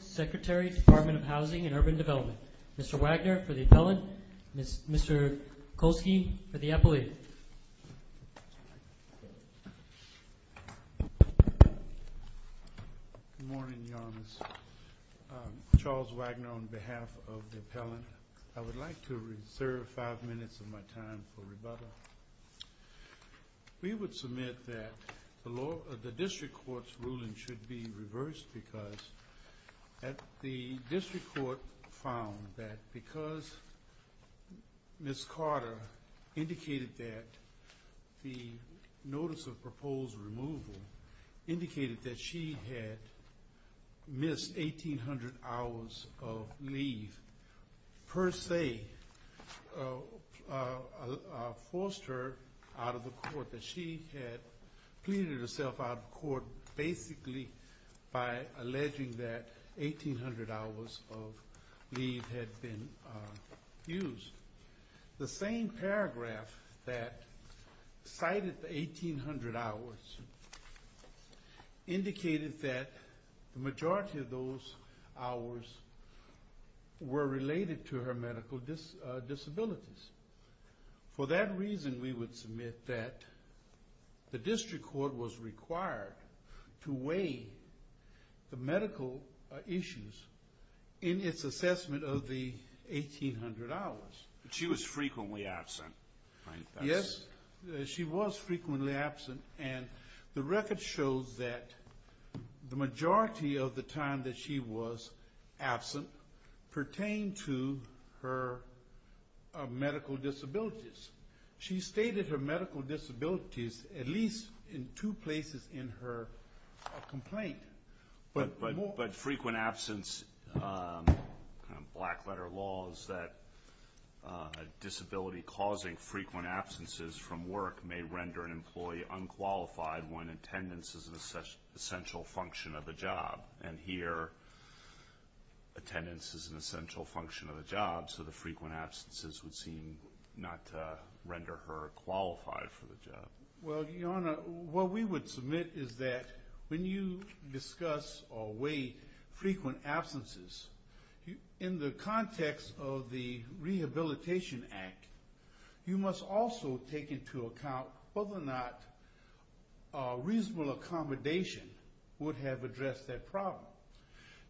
Secretary, Department of Housing and Urban Development, Mr. Wagner for the appellant and Mr. Kolsky for the appellate. Good morning, Your Honor. Charles Wagner on behalf of the appellant. I would like to reserve five minutes of my time for rebuttal. We would submit that the district court's ruling should be reversed because the district court found that because Ms. Carter indicated that the notice of proposed removal indicated that she had missed 1,800 hours of leave per se, forced her out of the court, that she had pleaded herself out of court basically by alleging that 1,800 hours of leave had been used. The same paragraph that cited the 1,800 hours indicated that the majority of those hours were related to her medical disabilities. For that reason, we would submit that the district court was required to weigh the medical issues in its assessment of the 1,800 hours. She was frequently absent. Yes, she was frequently absent and the record shows that the majority of the time that she was absent pertained to her medical disabilities. She stated her medical disabilities at least in two places in her complaint. But frequent absence, black letter law, is that a disability causing frequent absences from work may render an employee unqualified when attendance is an essential function of the job. And here, attendance is an essential function of the job, so the frequent absences would seem not to render her qualified for the job. Well, Your Honor, what we would submit is that when you discuss or weigh frequent absences, in the context of the Rehabilitation Act, you must also take into account whether or not reasonable accommodation would have addressed that problem.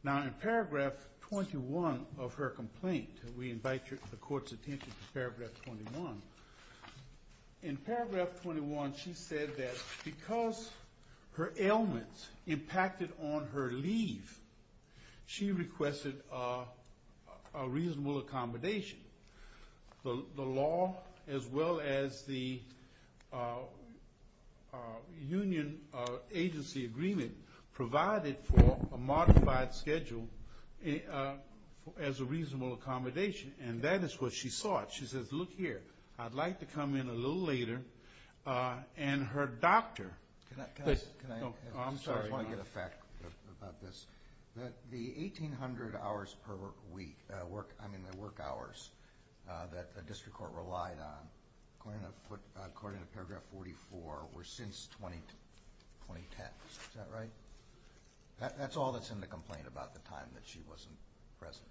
Now, in paragraph 21 of her complaint, and we invite the court's attention to paragraph 21, in paragraph 21, she said that because her ailments impacted on her leave, she requested a reasonable accommodation. The law, as well as the union agency agreement, provided for a modified schedule as a reasonable accommodation, and that is what she sought. She said, look here, I'd like to come in a little later, and her doctor… The 1800 hours per week, I mean the work hours, that the district court relied on, according to paragraph 44, were since 2010. Is that right? That's all that's in the complaint about the time that she wasn't present.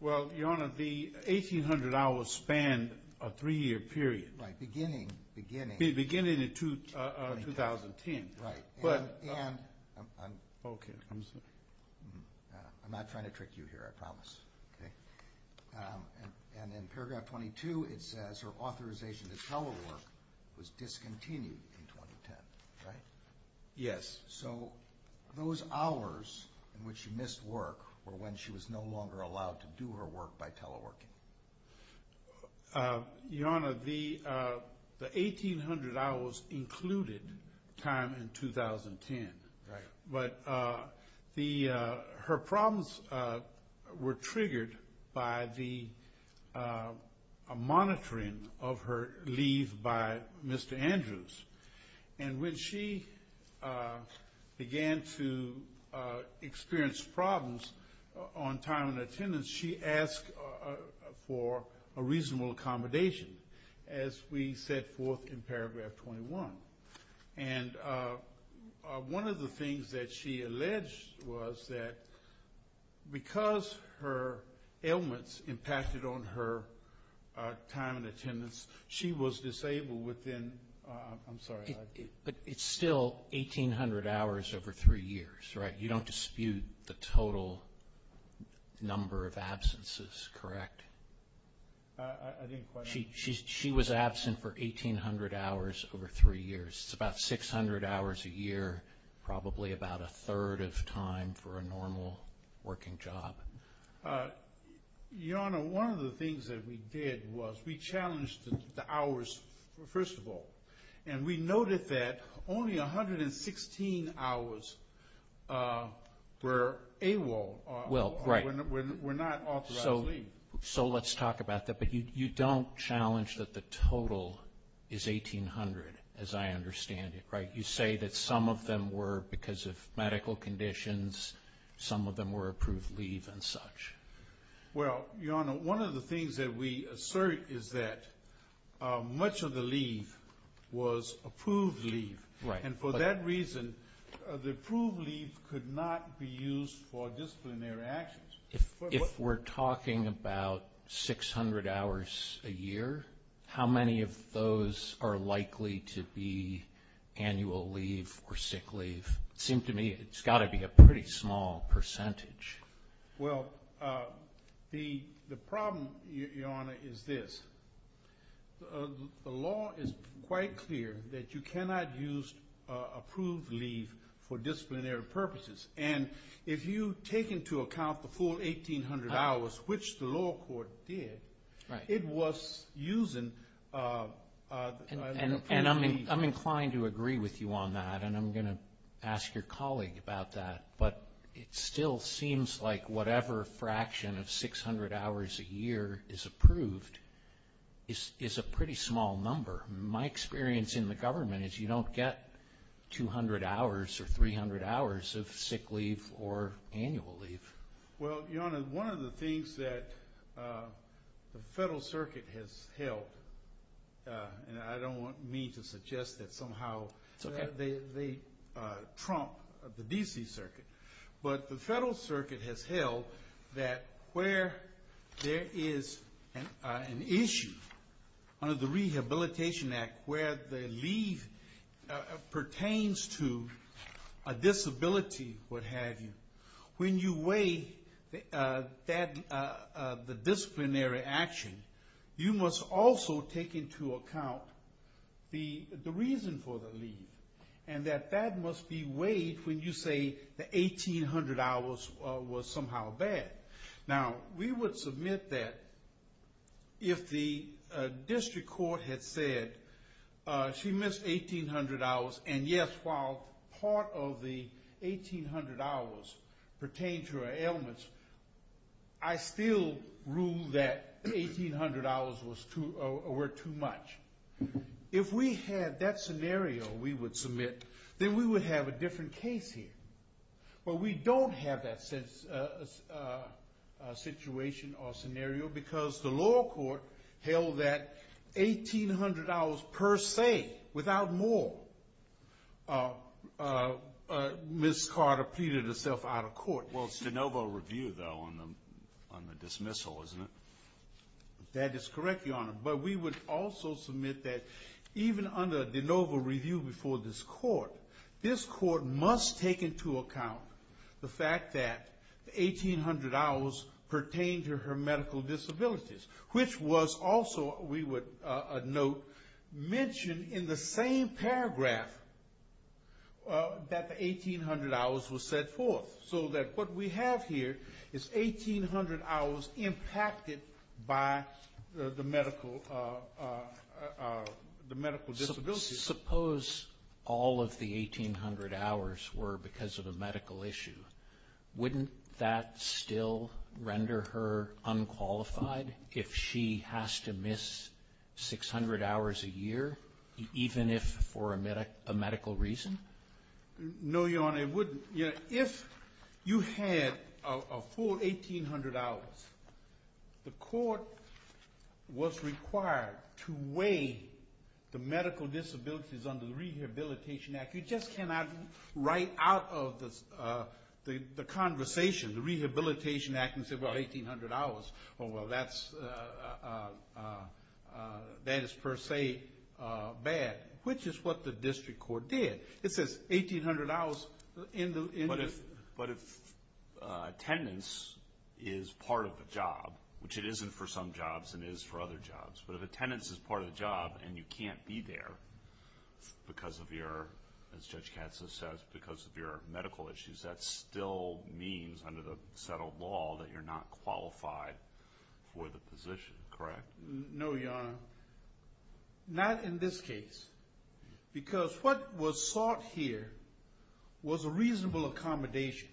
Well, Your Honor, the 1800 hours spanned a three-year period. Beginning… Beginning in 2010. Right. I'm not trying to trick you here, I promise. Okay. And in paragraph 22, it says her authorization to come over was discontinued in 2010, right? Yes. So, those hours in which she missed work were when she was no longer allowed to do her work by teleworking. Your Honor, the 1800 hours included time in 2010. Right. But her problems were triggered by the monitoring of her leave by Mr. Andrews. And when she began to experience problems on time of attendance, she asked for a reasonable accommodation, as we set forth in paragraph 21. And one of the things that she alleged was that because her ailments impacted on her time in attendance, she was disabled within… I'm sorry. But it's still 1800 hours over three years, right? You don't dispute the total number of absences, correct? I didn't quite… She was absent for 1800 hours over three years. It's about 600 hours a year, probably about a third of time for a normal working job. Your Honor, one of the things that we did was we challenged the hours, first of all. And we noted that only 116 hours were AWOL, were not authorized leave. So let's talk about that. But you don't challenge that the total is 1800, as I understand it, right? You say that some of them were because of medical conditions. Some of them were approved leave and such. Well, Your Honor, one of the things that we assert is that much of the leave was approved leave. And for that reason, the approved leave could not be used for disciplinary actions. If we're talking about 600 hours a year, how many of those are likely to be annual leave or sick leave? It seems to me it's got to be a pretty small percentage. Well, the problem, Your Honor, is this. The law is quite clear that you cannot use approved leave for disciplinary purposes. And if you take into account the full 1800 hours, which the law court did, it was using approved leave. And I'm inclined to agree with you on that, and I'm going to ask your colleague about that. But it still seems like whatever fraction of 600 hours a year is approved is a pretty small number. My experience in the government is you don't get 200 hours or 300 hours of sick leave or annual leave. Well, Your Honor, one of the things that the Federal Circuit has held, and I don't want me to suggest that somehow they trump the D.C. Circuit, but the Federal Circuit has held that where there is an issue under the Rehabilitation Act where the leave pertains to a disability, what have you, when you weigh the disciplinary action, you must also take into account the reason for the leave, and that that must be weighed when you say the 1800 hours was somehow bad. Now, we would submit that if the district court had said she missed 1800 hours and, yes, while part of the 1800 hours pertained to her illness, I still ruled that 1800 hours were too much. If we had that scenario we would submit, then we would have a different case here. But we don't have that situation or scenario because the lower court held that 1800 hours per se, without more. Ms. Carter pleaded herself out of court. Well, it's de novo review, though, on the dismissal, isn't it? That is correct, Your Honor, but we would also submit that even under de novo review before this court, this court must take into account the fact that the 1800 hours pertain to her medical disabilities, which was also, we would note, mentioned in the same paragraph that the 1800 hours were set forth, so that what we have here is 1800 hours impacted by the medical disabilities. Suppose all of the 1800 hours were because of a medical issue. Wouldn't that still render her unqualified if she has to miss 600 hours a year, even if for a medical reason? No, Your Honor, it wouldn't. If you had a full 1800 hours, the court was required to weigh the medical disabilities under the Rehabilitation Act. You just cannot write out of the conversation the Rehabilitation Act and say, well, 1800 hours, oh, well, that is per se bad, which is what the district court did. It says 1800 hours in the- But if attendance is part of the job, which it isn't for some jobs, it is for other jobs, but if attendance is part of the job and you can't be there because of your, as Judge Katzler says, because of your medical issues, that still means under the settled law that you're not qualified for the position, correct? No, Your Honor, not in this case, because what was sought here was a reasonable accommodation,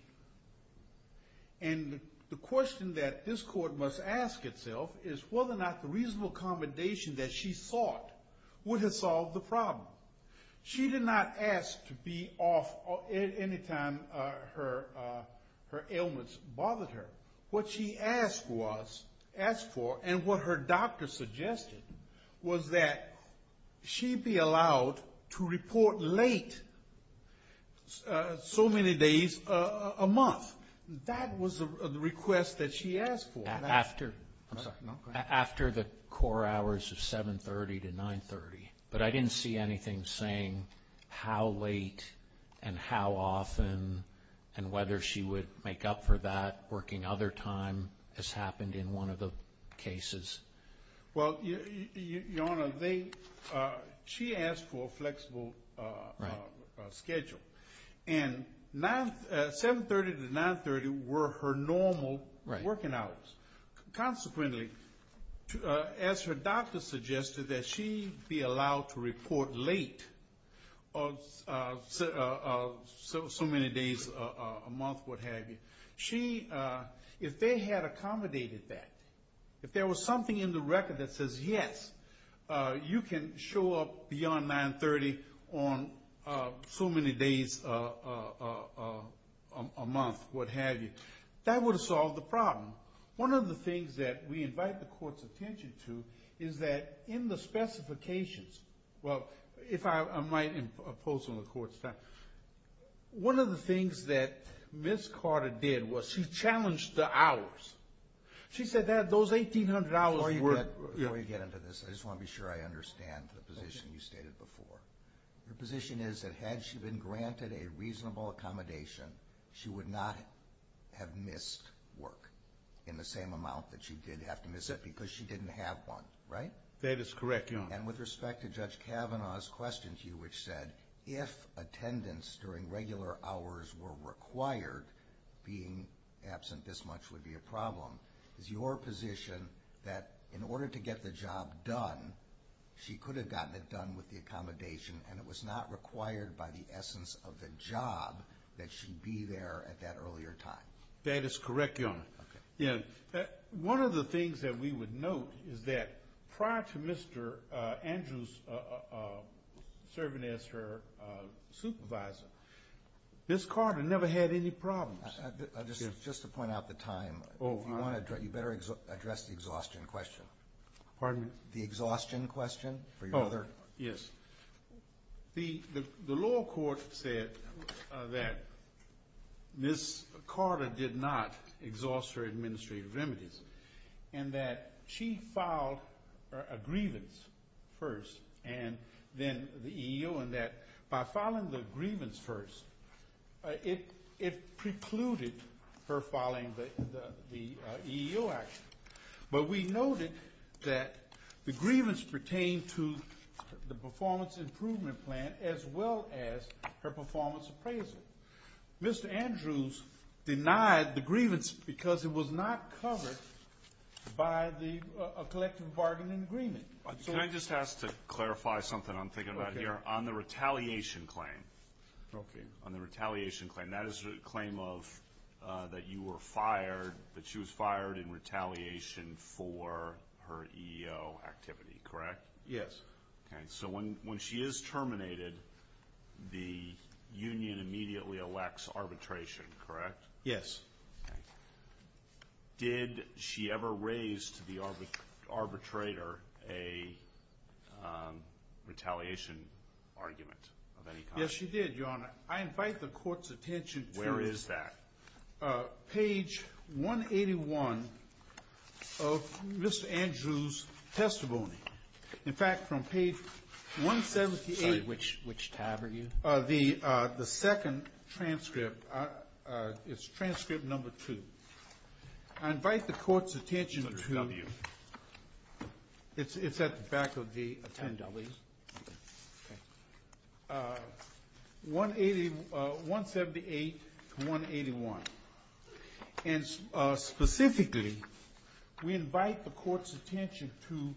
and the question that this court must ask itself is whether or not the reasonable accommodation that she sought would have solved the problem. She did not ask to be off any time her illness bothered her. What she asked for and what her doctor suggested was that she be allowed to report late so many days a month. That was the request that she asked for. After the core hours of 730 to 930, but I didn't see anything saying how late and how often and whether she would make up for that working other time as happened in one of the cases. Well, Your Honor, she asked for a flexible schedule, and 730 to 930 were her normal working hours. Consequently, as her doctor suggested that she be allowed to report late so many days a month, what have you, if they had accommodated that, if there was something in the record that says, yes, you can show up beyond 930 on so many days a month, what have you, that would have solved the problem. One of the things that we invite the court's attention to is that in the specifications, Well, if I might impose on the court, sir, one of the things that Ms. Carter did was she challenged the hours. She said that those 1800 hours were worth it. Before we get into this, I just want to be sure I understand the position you stated before. The position is that had she been granted a reasonable accommodation, she would not have missed work in the same amount that she did have to miss it because she didn't have one, right? That is correct, Your Honor. And with respect to Judge Kavanaugh's question to you, which said, if attendance during regular hours were required, being absent this much would be a problem, is your position that in order to get the job done, she could have gotten it done with the accommodation, and it was not required by the essence of the job that she be there at that earlier time? That is correct, Your Honor. One of the things that we would note is that prior to Mr. Andrews serving as her supervisor, Ms. Carter never had any problems. Just to point out the time, you better address the exhaustion question. Pardon me? The exhaustion question for your mother. Yes. The law court said that Ms. Carter did not exhaust her administrative remedies and that she filed a grievance first and then the EEO, and that by filing the grievance first, it precluded her filing the EEO action. But we noted that the grievance pertained to the performance improvement plan as well as her performance appraisal. Mr. Andrews denied the grievance because it was not covered by the collective bargaining agreement. Can I just ask to clarify something I'm thinking about here? On the retaliation claim, that is the claim that you were fired, that she was fired in retaliation for her EEO activity, correct? Yes. So when she is terminated, the union immediately elects arbitration, correct? Yes. Did she ever raise to the arbitrator a retaliation argument of any kind? Yes, she did, Your Honor. I invite the court's attention to this. Where is that? Page 181 of Mr. Andrews' testimony. In fact, from page 178. Which tab are you? The second transcript. It's transcript number two. I invite the court's attention to this. It's at the back of the attendees. 178 to 181. And specifically, we invite the court's attention to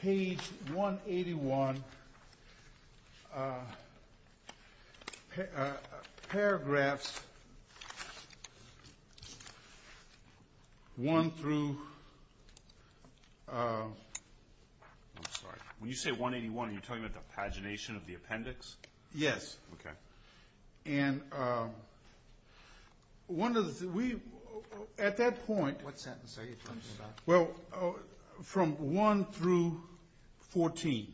page 181, paragraphs 1 through 181. Your Honor, you're talking about the pagination of the appendix? Yes. Okay. And at that point, from 1 through 14.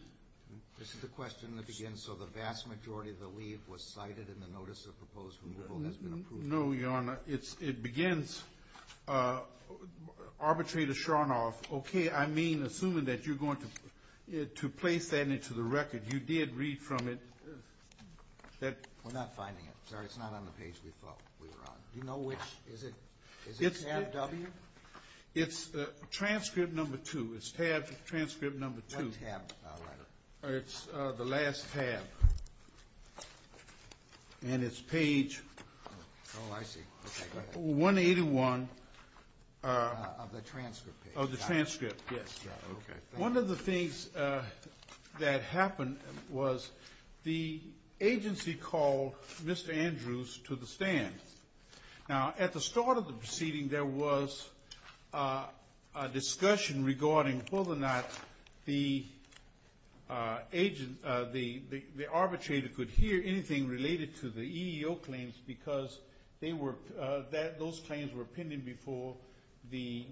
This is the question that begins, so the vast majority of the leave was cited in the notice of proposed removal. No, Your Honor. It begins, arbitrator Sharnoff, okay, I mean, I'm assuming that you're going to place that into the record. You did read from it. We're not finding it, sir. It's not on the page we thought we were on. Do you know which? Is it tab W? It's transcript number two. It's tab transcript number two. Which tab, Your Honor? It's the last tab. And it's page 181. Of the transcript page. Of the transcript, yes. One of the things that happened was the agency called Mr. Andrews to the stand. Now, at the start of the proceeding, there was a discussion regarding whether or not the arbitrator could hear anything related to the EEO claims because those claims were pending before the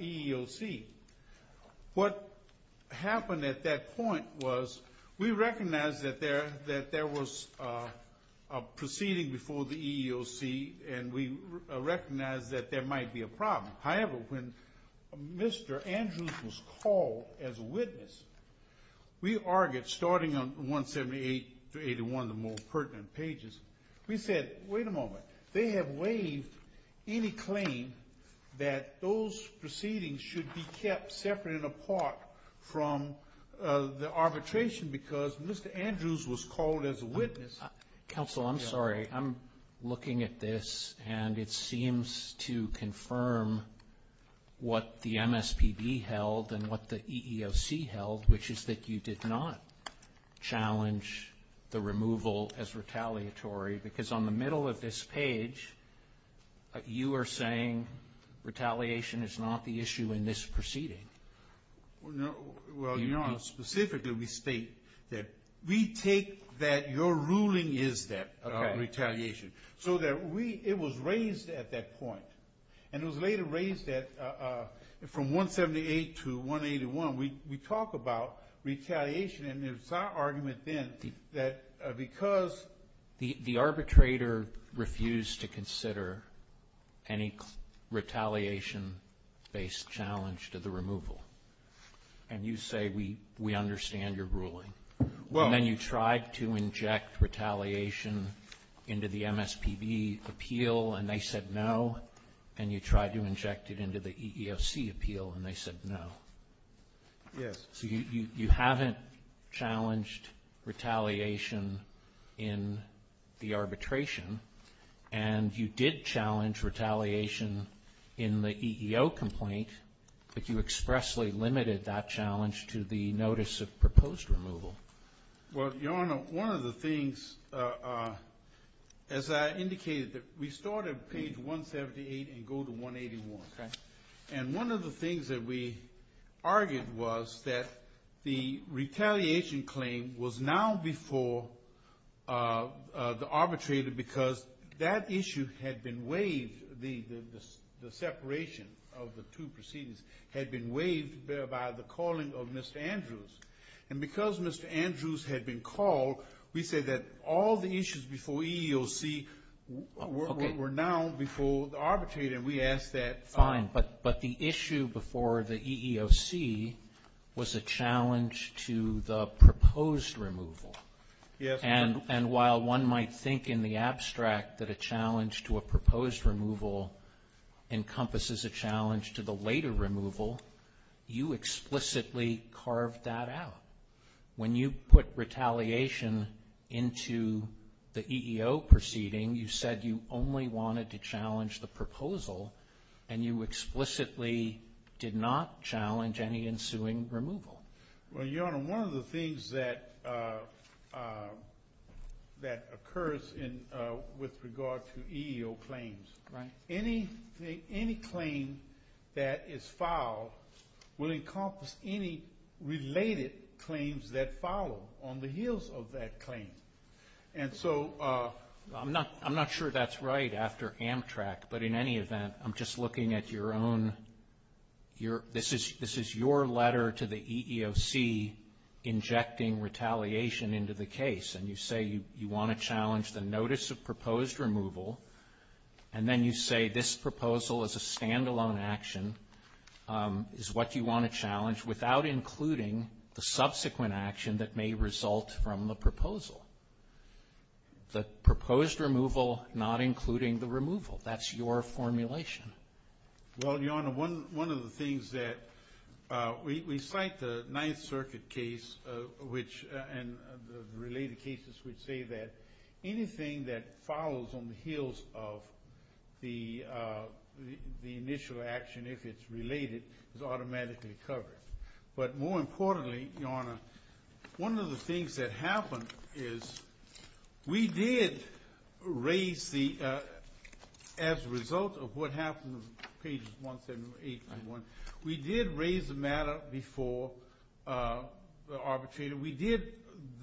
EEOC. What happened at that point was we recognized that there was a proceeding before the EEOC and we recognized that there might be a problem. However, when Mr. Andrews was called as a witness, we argued starting on 178-81, the most pertinent pages, we said, wait a moment. They have waived any claim that those proceedings should be kept separate and apart from the arbitration because Mr. Andrews was called as a witness. Counsel, I'm sorry. I'm looking at this and it seems to confirm what the MSPB held and what the EEOC held, which is that you did not challenge the removal as retaliatory because on the middle of this page, you are saying retaliation is not the issue in this proceeding. Well, you know, specifically we state that we take that your ruling is that retaliation, so that it was raised at that point. And it was later raised that from 178 to 181, we talk about retaliation and it was our argument then that because the arbitrator refused to consider any retaliation-based challenge to the removal. And you say we understand your ruling. And then you tried to inject retaliation into the MSPB appeal and they said no, and you tried to inject it into the EEOC appeal and they said no. Yes. So you haven't challenged retaliation in the arbitration and you did challenge retaliation in the EEO complaint, but you expressly limited that challenge to the notice of proposed removal. Well, Your Honor, one of the things, as I indicated, we start at page 178 and go to 181. Okay. And one of the things that we argued was that the retaliation claim was now before the arbitrator because that issue had been waived, the separation of the two proceedings had been waived by the calling of Mr. Andrews. And because Mr. Andrews had been called, we said that all the issues before EEOC were now before the arbitrator and we asked that. Fine, but the issue before the EEOC was a challenge to the proposed removal. Yes. And while one might think in the abstract that a challenge to a proposed removal encompasses a challenge to the later removal, you explicitly carved that out. When you put retaliation into the EEO proceeding, you said you only wanted to challenge the proposal and you explicitly did not challenge any ensuing removal. Well, Your Honor, one of the things that occurs with regard to EEO claims, any claim that is filed will encompass any related claims that follow on the heels of that claim. And so I'm not sure that's right after Amtrak, but in any event, I'm just looking at your own. This is your letter to the EEOC injecting retaliation into the case, and you say you want to challenge the notice of proposed removal, and then you say this proposal is a standalone action, is what you want to challenge without including the subsequent action that may result from the proposal. The proposed removal not including the removal, that's your formulation. Well, Your Honor, one of the things that we cite the Ninth Circuit case, and the related cases would say that anything that follows on the heels of the initial action, if it's related, is automatically covered. But more importantly, Your Honor, one of the things that happened is we did raise the, as a result of what happened on pages 1, 7, 8, and 1, we did raise the matter before the arbitrator. We did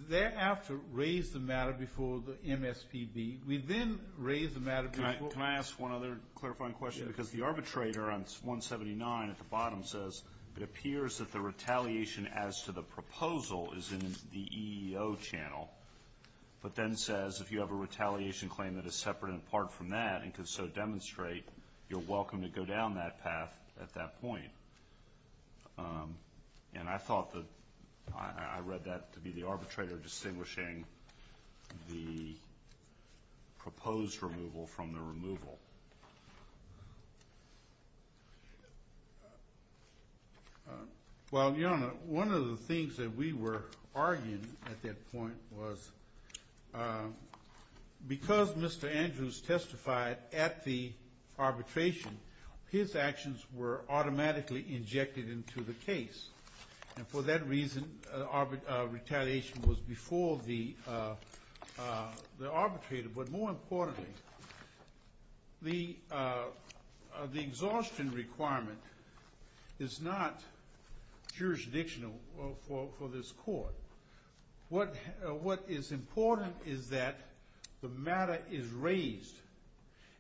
thereafter raise the matter before the MSPD. We then raised the matter before. Can I ask one other clarifying question? Because the arbitrator on 179 at the bottom says, it appears that the retaliation as to the proposal is in the EEO channel, but then says if you have a retaliation claim that is separate and apart from that and can so demonstrate, you're welcome to go down that path at that point. And I thought that I read that to be the arbitrator distinguishing the proposed removal from the removal. Well, Your Honor, one of the things that we were arguing at that point was because Mr. Andrews testified at the arbitration, his actions were automatically injected into the case. And for that reason, retaliation was before the arbitrator. But more importantly, the exhaustion requirement is not jurisdictional for this court. What is important is that the matter is raised.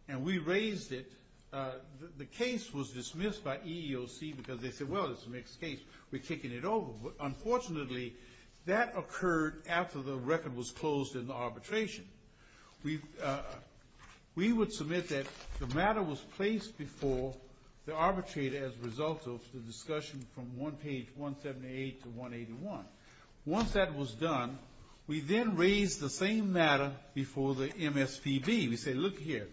And we raised it. The case was dismissed by EEOC because they said, well, it's a mixed case. We're kicking it over. But unfortunately, that occurred after the record was closed in the arbitration. We would submit that the matter was placed before the arbitrator as a result of the discussion from page 178 to 181. Once that was done, we then raised the same matter before the MSPB. We said, look here.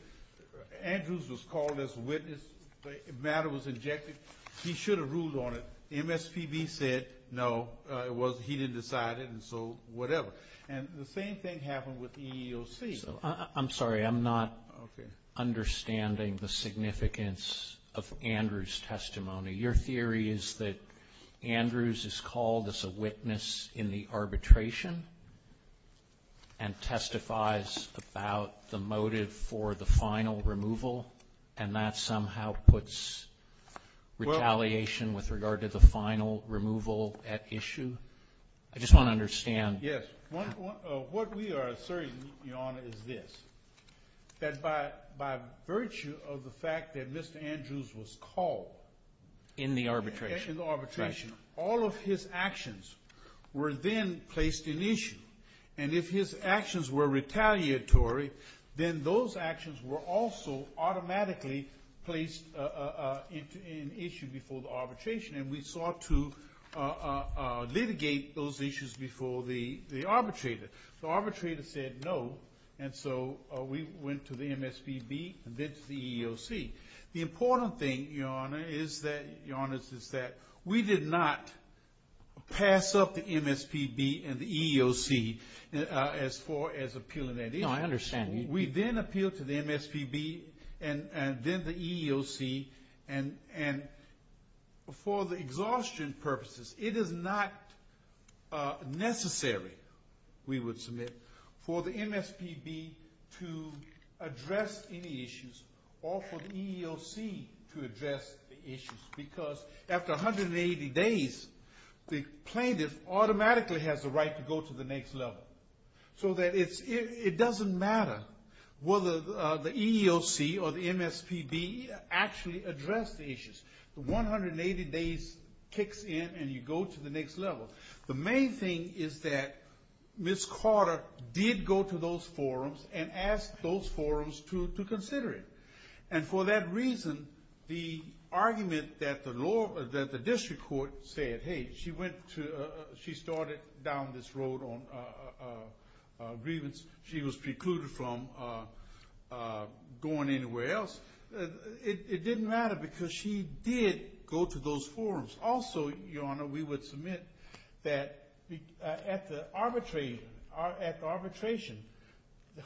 Andrews was called as a witness. The matter was injected. He should have ruled on it. MSPB said, no, he didn't decide it, and so whatever. And the same thing happened with EEOC. I'm sorry. I'm not understanding the significance of Andrews' testimony. Your theory is that Andrews is called as a witness in the arbitration and testifies about the motive for the final removal, and that somehow puts retaliation with regard to the final removal at issue? I just want to understand. Yes. What we are asserting, Your Honor, is this, that by virtue of the fact that Mr. Andrews was called in the arbitration, all of his actions were then placed in issue. And if his actions were retaliatory, then those actions were also automatically placed in issue before the arbitration, and we sought to litigate those issues before the arbitrator. The arbitrator said no, and so we went to the MSPB and then to the EEOC. The important thing, Your Honor, is that we did not pass up the MSPB and the EEOC as appealing that issue. No, I understand. We then appealed to the MSPB and then the EEOC, and for the exhaustion purposes, it is not necessary, we would submit, for the MSPB to address any issues or for the EEOC to address the issues, because after 180 days, the plaintiff automatically has the right to go to the next level. So that it doesn't matter whether the EEOC or the MSPB actually addressed the issues. 180 days kicks in and you go to the next level. The main thing is that Ms. Carter did go to those forums and asked those forums to consider it. And for that reason, the argument that the district court said, hey, she started down this road on grievance, she was precluded from going anywhere else, it didn't matter because she did go to those forums. Also, Your Honor, we would submit that at the arbitration,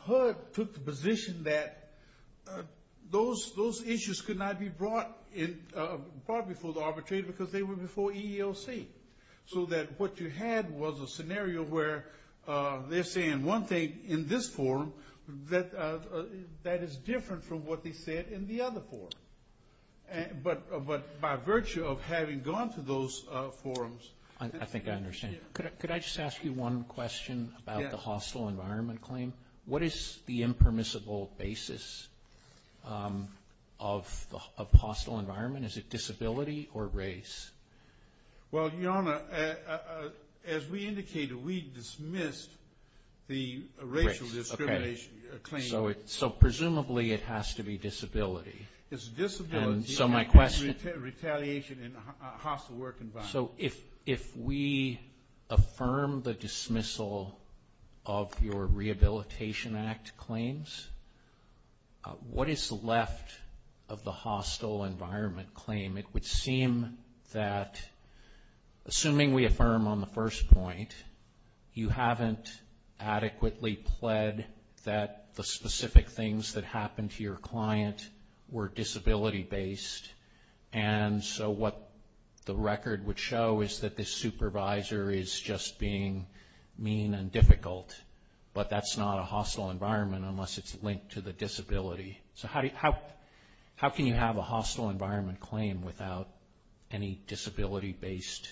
HUD took the position that those issues could not be brought in, brought before the arbitration because they were before EEOC. So that what you had was a scenario where they're saying one thing in this forum that is different from what they said in the other forum. But by virtue of having gone to those forums. I think I understand. Could I just ask you one question about the hostile environment claim? What is the impermissible basis of hostile environment? Is it disability or race? Well, Your Honor, as we indicated, we dismissed the racial discrimination claim. So presumably it has to be disability. It's disability and retaliation in a hostile work environment. So if we affirm the dismissal of your Rehabilitation Act claims, what is left of the hostile environment claim? It would seem that assuming we affirm on the first point, you haven't adequately pled that the specific things that happened to your client were disability-based. And so what the record would show is that the supervisor is just being mean and difficult. But that's not a hostile environment unless it's linked to the disability. So how can you have a hostile environment claim without any disability-based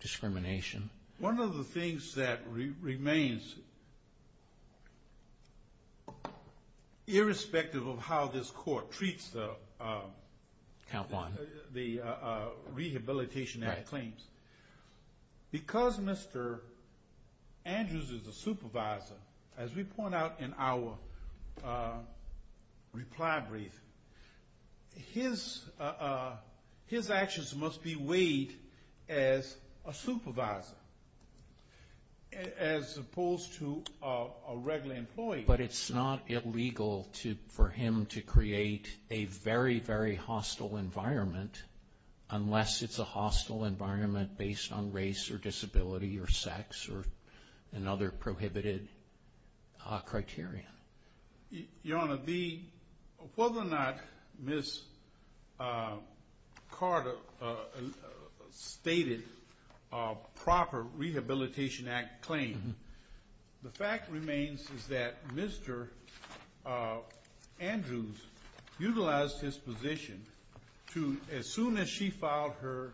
discrimination? One of the things that remains, irrespective of how this court treats the Rehabilitation Act claims, because Mr. Andrews is the supervisor, as we point out in our reply brief, his actions must be weighed as a supervisor as opposed to a regular employee. But it's not illegal for him to create a very, very hostile environment unless it's a hostile environment based on race or disability or sex or another prohibited criteria. Your Honor, whether or not Ms. Carter stated a proper Rehabilitation Act claim, the fact remains that Mr. Andrews utilized his position to, as soon as she filed her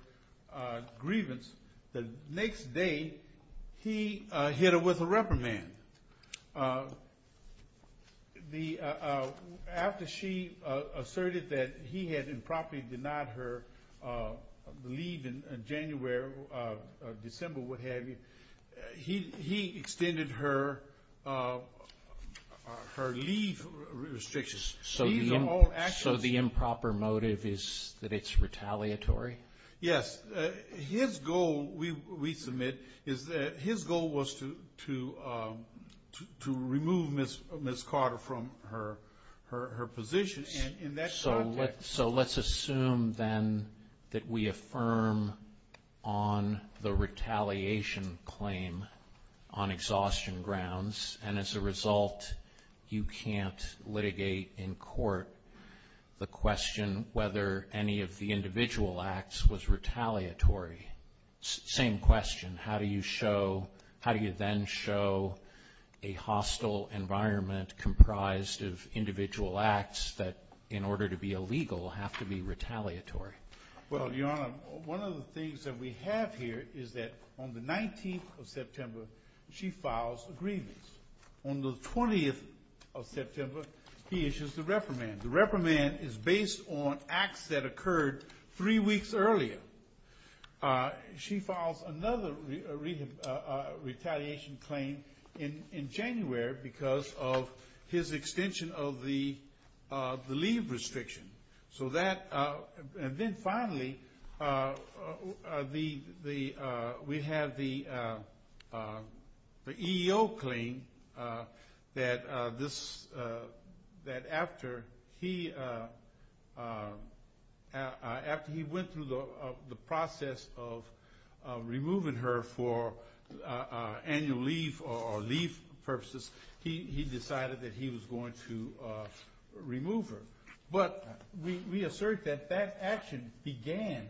grievance, the next day he hit her with a rubber band. After she asserted that he had improperly denied her leave in January, December, what have you, he extended her leave restrictions. So the improper motive is that it's retaliatory? Yes. His goal, we submit, is that his goal was to remove Ms. Carter from her position. So let's assume then that we affirm on the retaliation claim on exhaustion grounds, and as a result you can't litigate in court the question whether any of the individual acts was retaliatory. Same question. How do you then show a hostile environment comprised of individual acts that in order to be illegal have to be retaliatory? Well, Your Honor, one of the things that we have here is that on the 19th of September she files the grievance. On the 20th of September he issues the reprimand. The reprimand is based on acts that occurred three weeks earlier. She files another retaliation claim in January because of his extension of the leave restriction. Then finally we have the EEO claim that after he went through the process of removing her for annual leave or leave purposes he decided that he was going to remove her. But we assert that that action began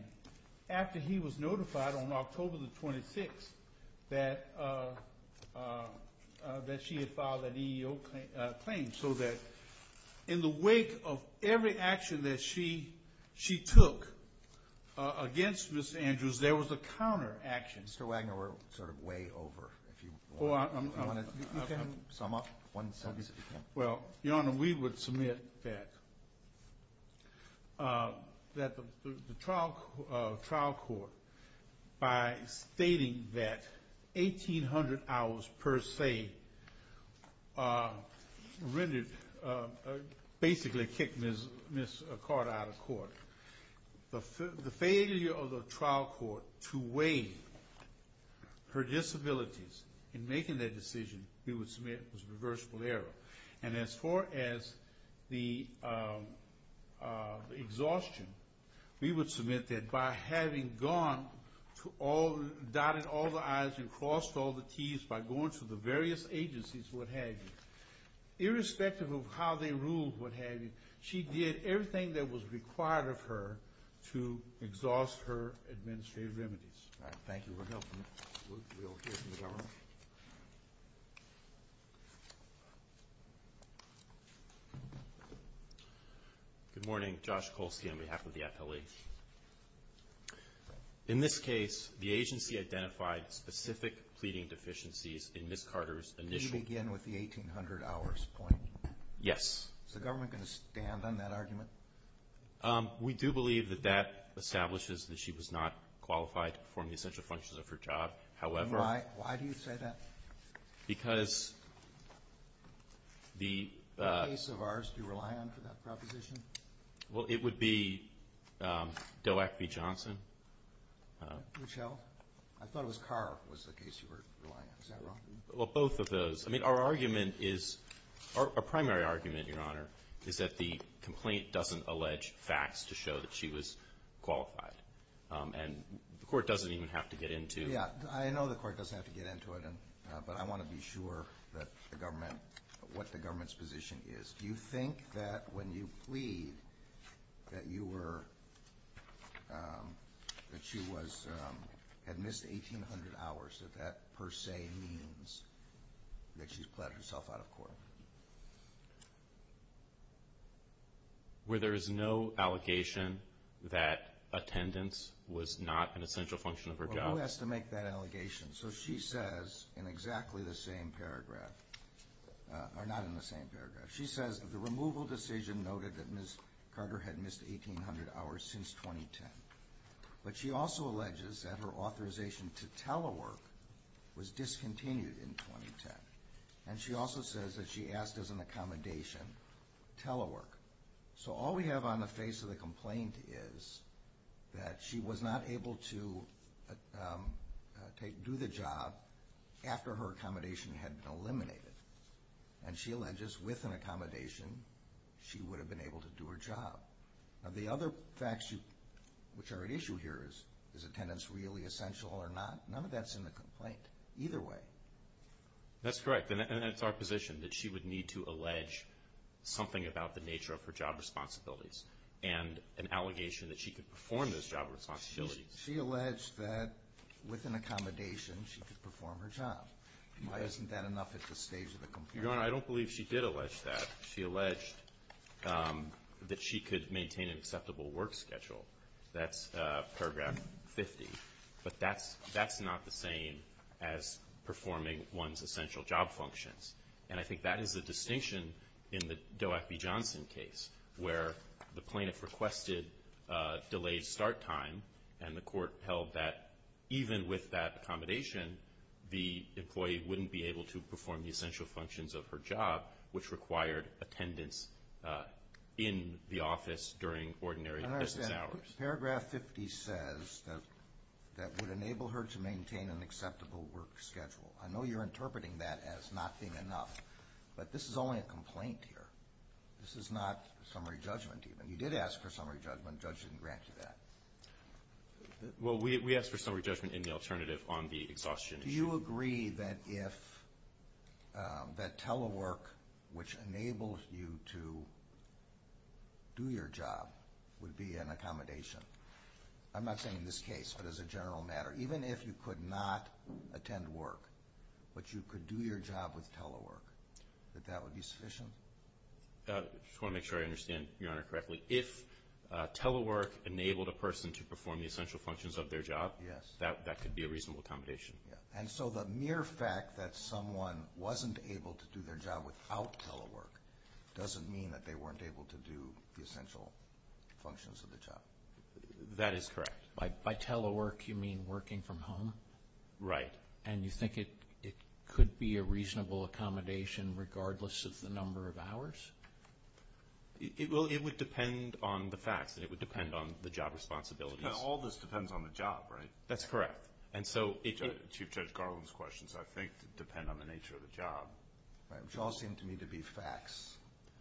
after he was notified on October the 26th that she had filed an EEO claim so that in the wake of every action that she took against Ms. Andrews there was a counter action. Mr. Wagner, we're sort of way over. I want to sum up. Well, Your Honor, we would submit that the trial court by stating that 1,800 hours per se really basically kicked Ms. Accord out of court. The failure of the trial court to weigh her disabilities in making that decision we would submit was a reversible error. And as far as the exhaustion, we would submit that by having dotted all the I's and crossed all the T's by going to the various agencies, what have you, irrespective of how they ruled, what have you, she did everything that was required of her to exhaust her administrative limits. Thank you, Your Honor. Good morning. Josh Kolsky on behalf of the FLE. In this case, the agency identified specific feeding deficiencies in Ms. Carter's initial... Did she begin with the 1,800 hours point? Yes. Is the government going to stand on that argument? We do believe that that establishes that she was not qualified to perform the essential functions of her job. However... Why do you say that? Because the... Which case of ours do you rely on for that proposition? Well, it would be DOAC v. Johnson. Michelle? I thought it was Carr was the case you were relying on. Is that wrong? Well, both of those. I mean, our argument is... Our primary argument, Your Honor, is that the complaint doesn't allege facts to show that she was qualified. And the court doesn't even have to get into... Yeah, I know the court doesn't have to get into it, but I want to be sure that the government... what the government's position is. Do you think that when you plead that you were... that she was... had missed 1,800 hours, that that per se means that she's plead herself out of court? Where there is no allegation that attendance was not an essential function of her job? Well, who has to make that allegation? So she says in exactly the same paragraph... or not in the same paragraph. She says the removal decision noted that Ms. Carter had missed 1,800 hours since 2010. But she also alleges that her authorization to telework was discontinued in 2010. And she also says that she asked as an accommodation to telework. So all we have on the face of the complaint is that she was not able to do the job after her accommodation had been eliminated. And she alleges with an accommodation she would have been able to do her job. Now, the other facts which are at issue here is, is attendance really essential or not? None of that's in the complaint either way. That's correct. And that's our position, that she would need to allege something about the nature of her job responsibilities and an allegation that she could perform those job responsibilities. She alleged that with an accommodation she could perform her job. Why isn't that enough at this stage of the complaint? Your Honor, I don't believe she did allege that. She alleged that she could maintain an acceptable work schedule. That's paragraph 50. But that's not the same as performing one's essential job functions. And I think that is the distinction in the Doack v. Johnson case where the plaintiff requested delayed start time and the court held that even with that accommodation, the employee wouldn't be able to perform the essential functions of her job, which required attendance in the office during ordinary business hours. Paragraph 50 says that it would enable her to maintain an acceptable work schedule. I know you're interpreting that as not being enough, but this is only a complaint here. This is not summary judgment even. You did ask for summary judgment. The judge didn't grant you that. Well, we asked for summary judgment in the alternative on the exhaustion issue. Do you agree that telework, which enables you to do your job, would be an accommodation? I'm not saying in this case, but as a general matter, even if you could not attend work but you could do your job with telework, that that would be sufficient? I just want to make sure I understand Your Honor correctly. If telework enabled a person to perform the essential functions of their job, that could be a reasonable accommodation. And so the mere fact that someone wasn't able to do their job without telework doesn't mean that they weren't able to do the essential functions of their job. That is correct. By telework, you mean working from home? Right. And you think it could be a reasonable accommodation regardless of the number of hours? Well, it would depend on the fact. It would depend on the job responsibilities. Now, all this depends on the job, right? That's correct. Chief Judge Garland's questions, I think, depend on the nature of the job. They all seem to me to be facts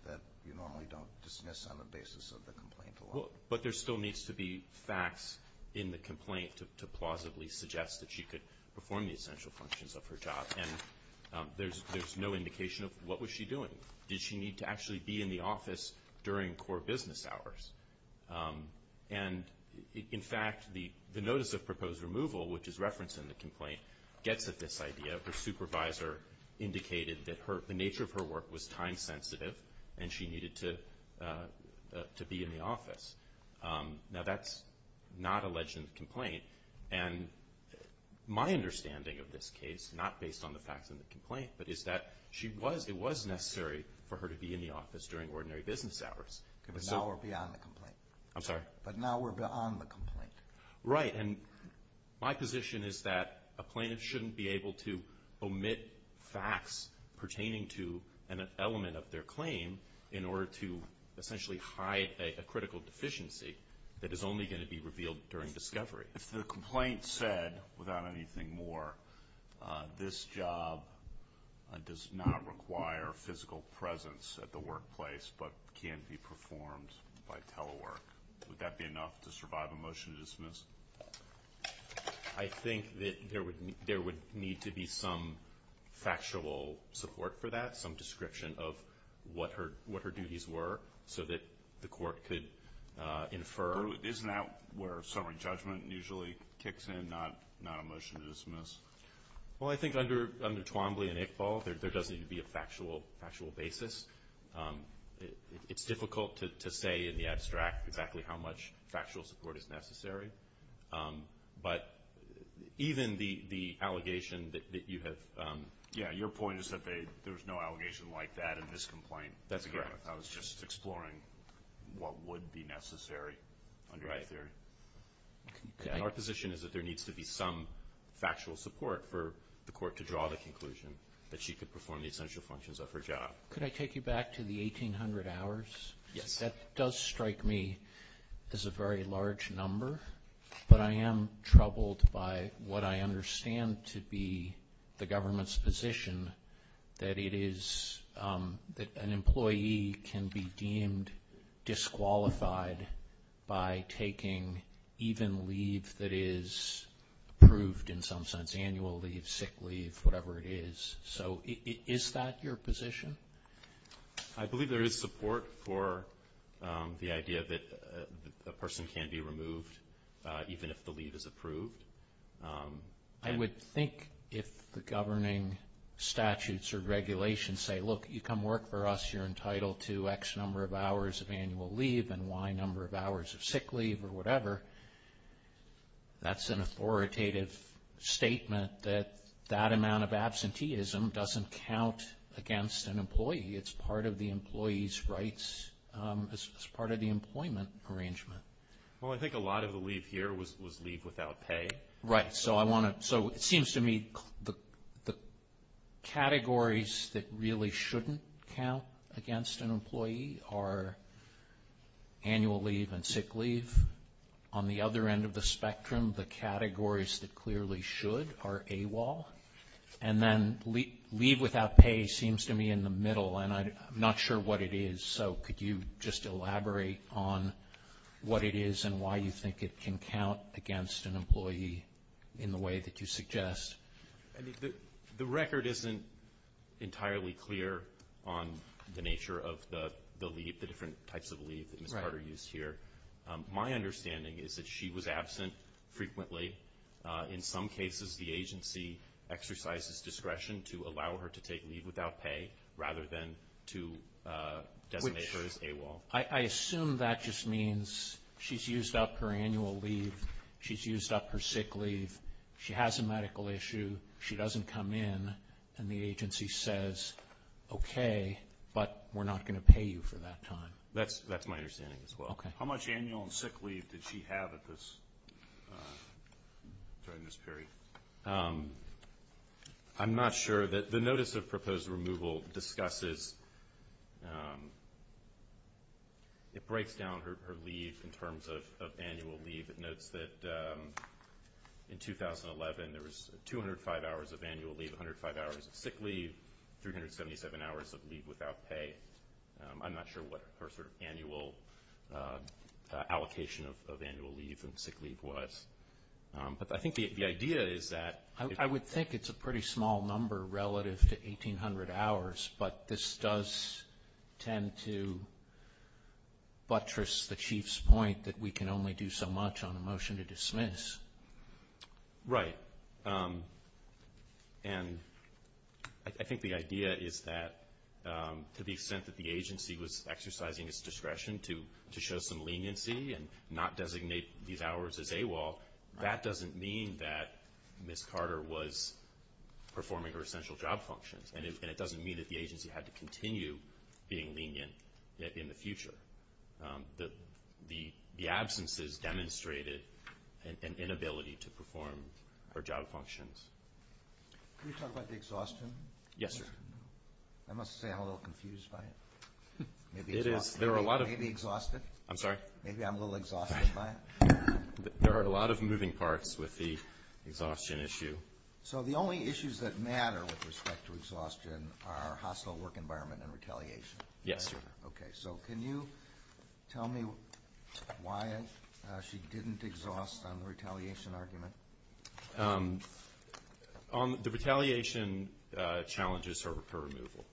that you normally don't dismiss on the basis of the complaint alone. But there still needs to be facts in the complaint to plausibly suggest that she could perform the essential functions of her job. And there's no indication of what was she doing. Did she need to actually be in the office during core business hours? And, in fact, the notice of proposed removal, which is referenced in the complaint, gets at this idea. Her supervisor indicated that the nature of her work was time sensitive and she needed to be in the office. Now, that's not alleged in the complaint. And my understanding of this case, not based on the facts of the complaint, but is that it was necessary for her to be in the office during ordinary business hours. But now we're beyond the complaint. I'm sorry? But now we're beyond the complaint. Right. And my position is that a plaintiff shouldn't be able to omit facts pertaining to an element of their claim in order to essentially hide a critical deficiency that is only going to be revealed during discovery. If the complaint said, without anything more, this job does not require physical presence at the workplace but can be performed by telework, would that be enough to survive a motion to dismiss? I think that there would need to be some factual support for that, some description of what her duties were so that the court could infer. Isn't that where summary judgment usually kicks in, not a motion to dismiss? Well, I think under Twombly and Iqbal, there does need to be a factual basis. It's difficult to say in the abstract exactly how much factual support is necessary. But even the allegation that you have... Yeah, your point is that there's no allegation like that in this complaint. That's correct. I was just exploring what would be necessary under either. Our position is that there needs to be some factual support for the court to draw the conclusion that she could perform the essential functions of her job. Could I take you back to the 1,800 hours? Yes. That does strike me as a very large number, but I am troubled by what I understand to be the government's position that an employee can be deemed disqualified by taking even leave that is approved in some sense, annual leave, sick leave, whatever it is. So is that your position? I believe there is support for the idea that a person can be removed even if the leave is approved. I would think if the governing statutes or regulations say, look, you come work for us, you're entitled to X number of hours of annual leave and Y number of hours of sick leave or whatever, that's an authoritative statement that that amount of absenteeism doesn't count against an employee. It's part of the employee's rights as part of the employment arrangement. Well, I think a lot of the leave here was leave without pay. Right. So it seems to me the categories that really shouldn't count against an employee are annual leave and sick leave. On the other end of the spectrum, the categories that clearly should are AWOL. And then leave without pay seems to me in the middle, and I'm not sure what it is. So could you just elaborate on what it is and why you think it can count against an employee in the way that you suggest? I mean, the record isn't entirely clear on the nature of the leave, the different types of leave that we started to use here. My understanding is that she was absent frequently. In some cases, the agency exercises discretion to allow her to take leave without pay rather than to designate her as AWOL. I assume that just means she's used up her annual leave, she's used up her sick leave, she has a medical issue, she doesn't come in, and the agency says, okay, but we're not going to pay you for that time. That's my understanding as well. How much annual and sick leave did she have at this time in this period? I'm not sure. The Notice of Proposed Removal discusses – it breaks down her leave in terms of annual leave. It notes that in 2011, there was 205 hours of annual leave, 105 hours of sick leave, 377 hours of leave without pay. I'm not sure what her annual allocation of annual leave and sick leave was. But I think the idea is that – I would think it's a pretty small number relative to 1,800 hours, but this does tend to buttress the Chief's point that we can only do so much on a motion to dismiss. Right. And I think the idea is that to the extent that the agency was exercising its discretion to show some leniency and not designate these hours as AWOL, that doesn't mean that Ms. Carter was performing her essential job function, and it doesn't mean that the agency had to continue being lenient in the future. The absences demonstrated an inability to perform her job functions. Can we talk about the exhaustion? Yes, sir. I must say I'm a little confused by it. There are a lot of – Maybe exhausted? I'm sorry? Maybe I'm a little exhausted by it? There are a lot of moving parts with the exhaustion issue. So the only issues that matter with respect to exhaustion are hostile work environment and retaliation? Yes, sir. Okay. So can you tell me why she didn't exhaust on the retaliation argument? The retaliation challenges her for removal.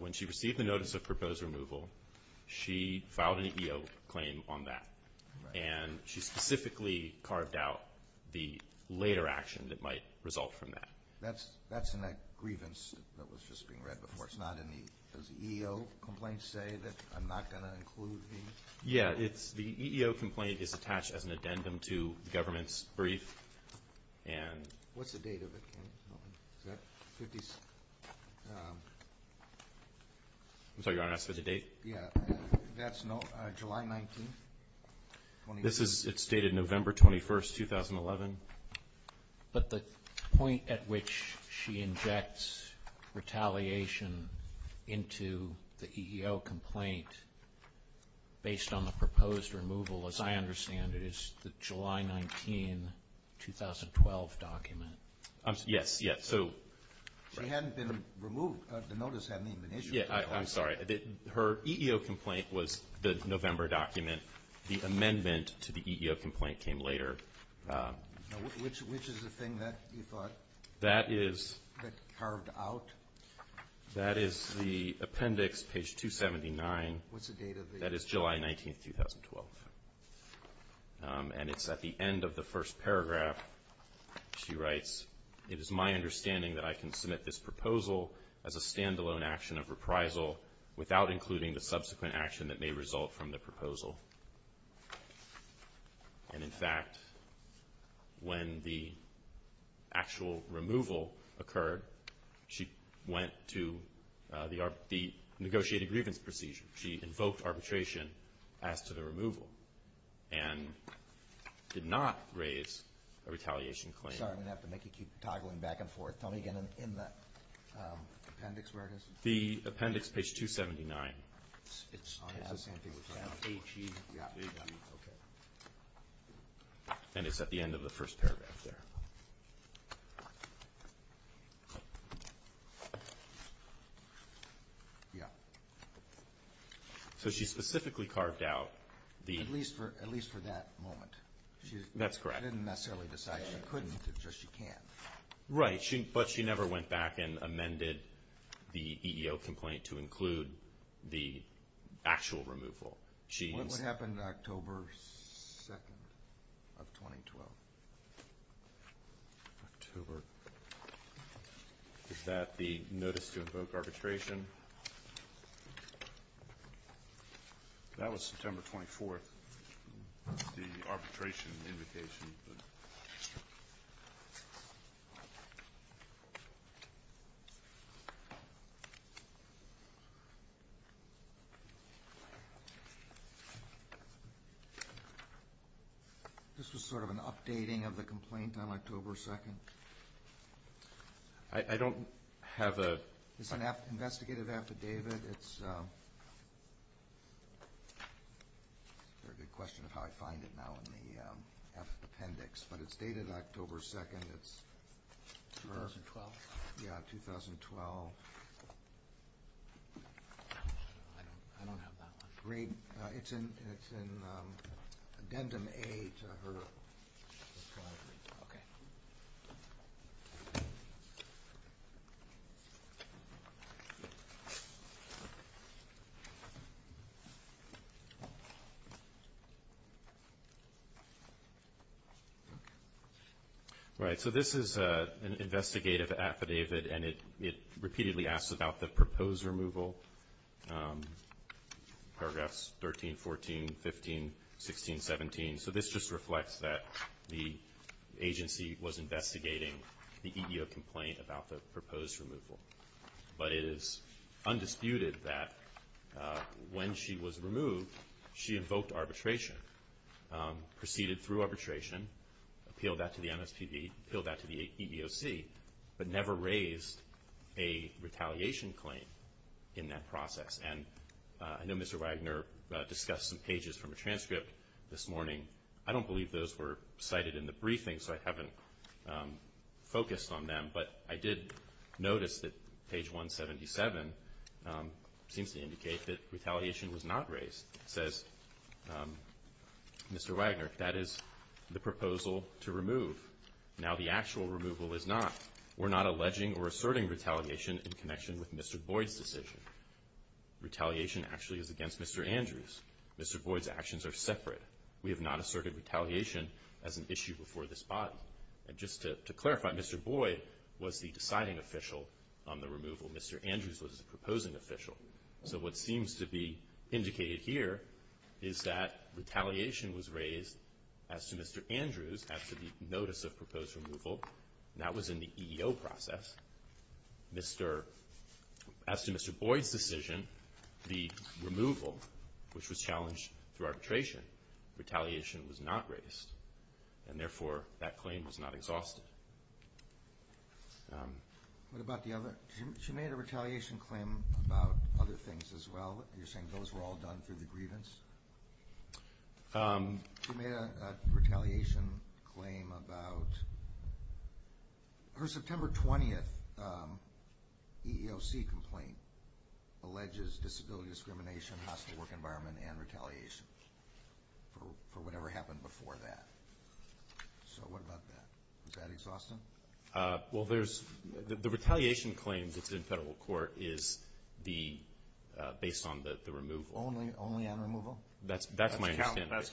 When she received the notice of proposed removal, she filed an EO claim on that, and she specifically carved out the later action that might result from that. That's in that grievance that was just being read before. It's not in the – does the EO complaint say that I'm not going to include the – Yes, the EO complaint is attached as an addendum to the government's brief, and – What's the date of it? I'm sorry. You're asking for the date? Yes. That's July 19th, 2011. It's dated November 21st, 2011. But the point at which she injects retaliation into the EO complaint based on the proposed removal, as I understand it, is the July 19, 2012 document. Yes, yes. So – It hadn't been removed, but the notice hadn't even been issued. I'm sorry. Her EO complaint was the November document. The amendment to the EO complaint came later. Which is the thing that you thought that carved out? That is the appendix, page 279. What's the date of it? That is July 19, 2012. And it's at the end of the first paragraph. She writes, It is my understanding that I can submit this proposal as a stand-alone action of reprisal without including the subsequent action that may result from the proposal. And, in fact, when the actual removal occurred, she went to the negotiating grievance procedure. She invoked arbitration as to the removal and did not raise a retaliation claim. I'm sorry. I'm going to have to make you keep toggling back and forth. Tell me again in the appendix where it is. The appendix, page 279. It's on it. I was going to think it was on it. Yeah. And it's at the end of the first paragraph. Yeah. Yeah. So she specifically carved out the – At least for that moment. That's correct. She didn't necessarily decide. She couldn't. It's just she can't. Right. But she never went back and amended the EEO complaint to include the actual removal. What happened October 2nd of 2012? October. Is that the notice to invoke arbitration? That was September 24th. The arbitration invocation. This was sort of an updating of the complaint on October 2nd. I don't have a – It's an investigative act to David. It's a question of how I find it now in the appendix. But it's dated October 2nd. It's – 2012. Yeah, 2012. I don't have that one. Great. It's in addendum A to her – Okay. Right. So this is an investigative affidavit. And it repeatedly asks about the proposed removal, paragraphs 13, 14, 15, 16, 17. So this just reflects that the agency was investigating the EEO complaint about the proposed removal. But it is undisputed that when she was removed, she invoked arbitration, proceeded through arbitration, appealed that to the MSPB, appealed that to the EEOC, but never raised a retaliation claim in that process. And I know Mr. Wagner discussed some pages from the transcript this morning. I don't believe those were cited in the briefing, so I haven't focused on them. But I did notice that page 177 seems to indicate that retaliation was not raised. It says, Mr. Wagner, that is the proposal to remove. Now the actual removal is not. We're not alleging or asserting retaliation in connection with Mr. Boyd's decision. Retaliation actually is against Mr. Andrews. Mr. Boyd's actions are separate. We have not asserted retaliation as an issue before this body. And just to clarify, Mr. Boyd was the deciding official on the removal. Mr. Andrews was the proposing official. So what seems to be indicated here is that retaliation was raised as to Mr. Andrews, as to the notice of proposed removal, and that was in the EEO process. As to Mr. Boyd's decision, the removal, which was challenged through arbitration, retaliation was not raised. And therefore, that claim was not exhausted. What about the other? She made a retaliation claim about other things as well. You're saying those were all done through the grievance? She made a retaliation claim about her September 20th EEOC complaint, alleges disability discrimination, hostile work environment, and retaliation for whatever happened before that. So what about that? Is that exhausting? Well, the retaliation claim that's in federal court is based on the removal. Only a removal? That's